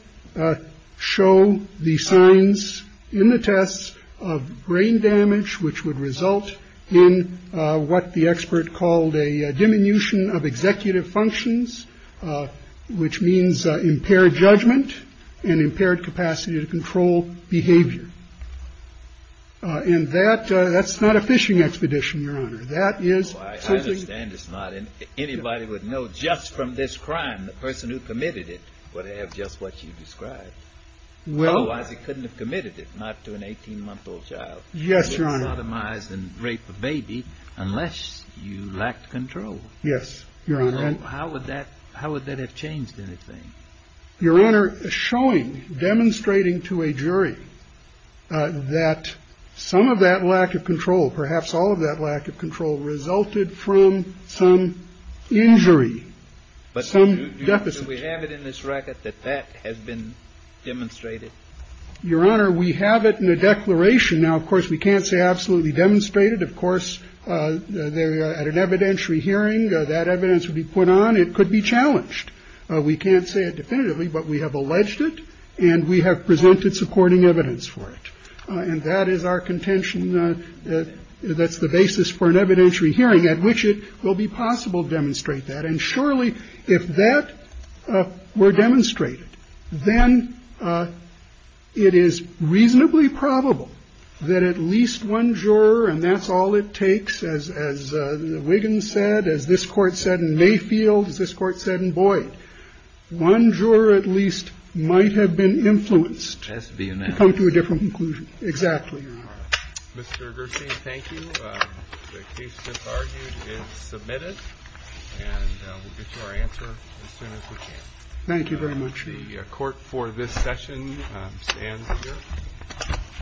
show the signs in the tests of brain damage, which would result in what the expert called a diminution of executive functions, which means impaired judgment and impaired capacity to control behavior. And that that's not a fishing expedition. Your Honor, that is, I understand it's not anybody would know just from this crime. The person who committed it would have just what you described. Well, otherwise he couldn't have committed it. Not to an 18 month old child. Yes. You're on the minds and rape a baby unless you lack control. Yes. Your Honor. How would that how would that have changed anything? Your Honor. Showing demonstrating to a jury that some of that lack of control, perhaps all of that lack of control resulted from some injury. But some deficit. We have it in this record that that has been demonstrated. Your Honor, we have it in the declaration. Now, of course, we can't say absolutely demonstrated. Of course, at an evidentiary hearing, that evidence would be put on. It could be challenged. We can't say it definitively, but we have alleged it and we have presented supporting evidence for it. And that is our contention. That's the basis for an evidentiary hearing at which it will be possible to demonstrate that. And surely if that were demonstrated, then it is reasonably probable that at least one juror. And that's all it takes. As Wiggins said, as this court said in Mayfield, as this court said in Boyd, one juror at least might have been influenced to come to a different conclusion. Exactly. Mr. Garcia, thank you. The case, as argued, is submitted. And we'll get to our answer as soon as we can. Thank you very much. The court for this session stands adjourned.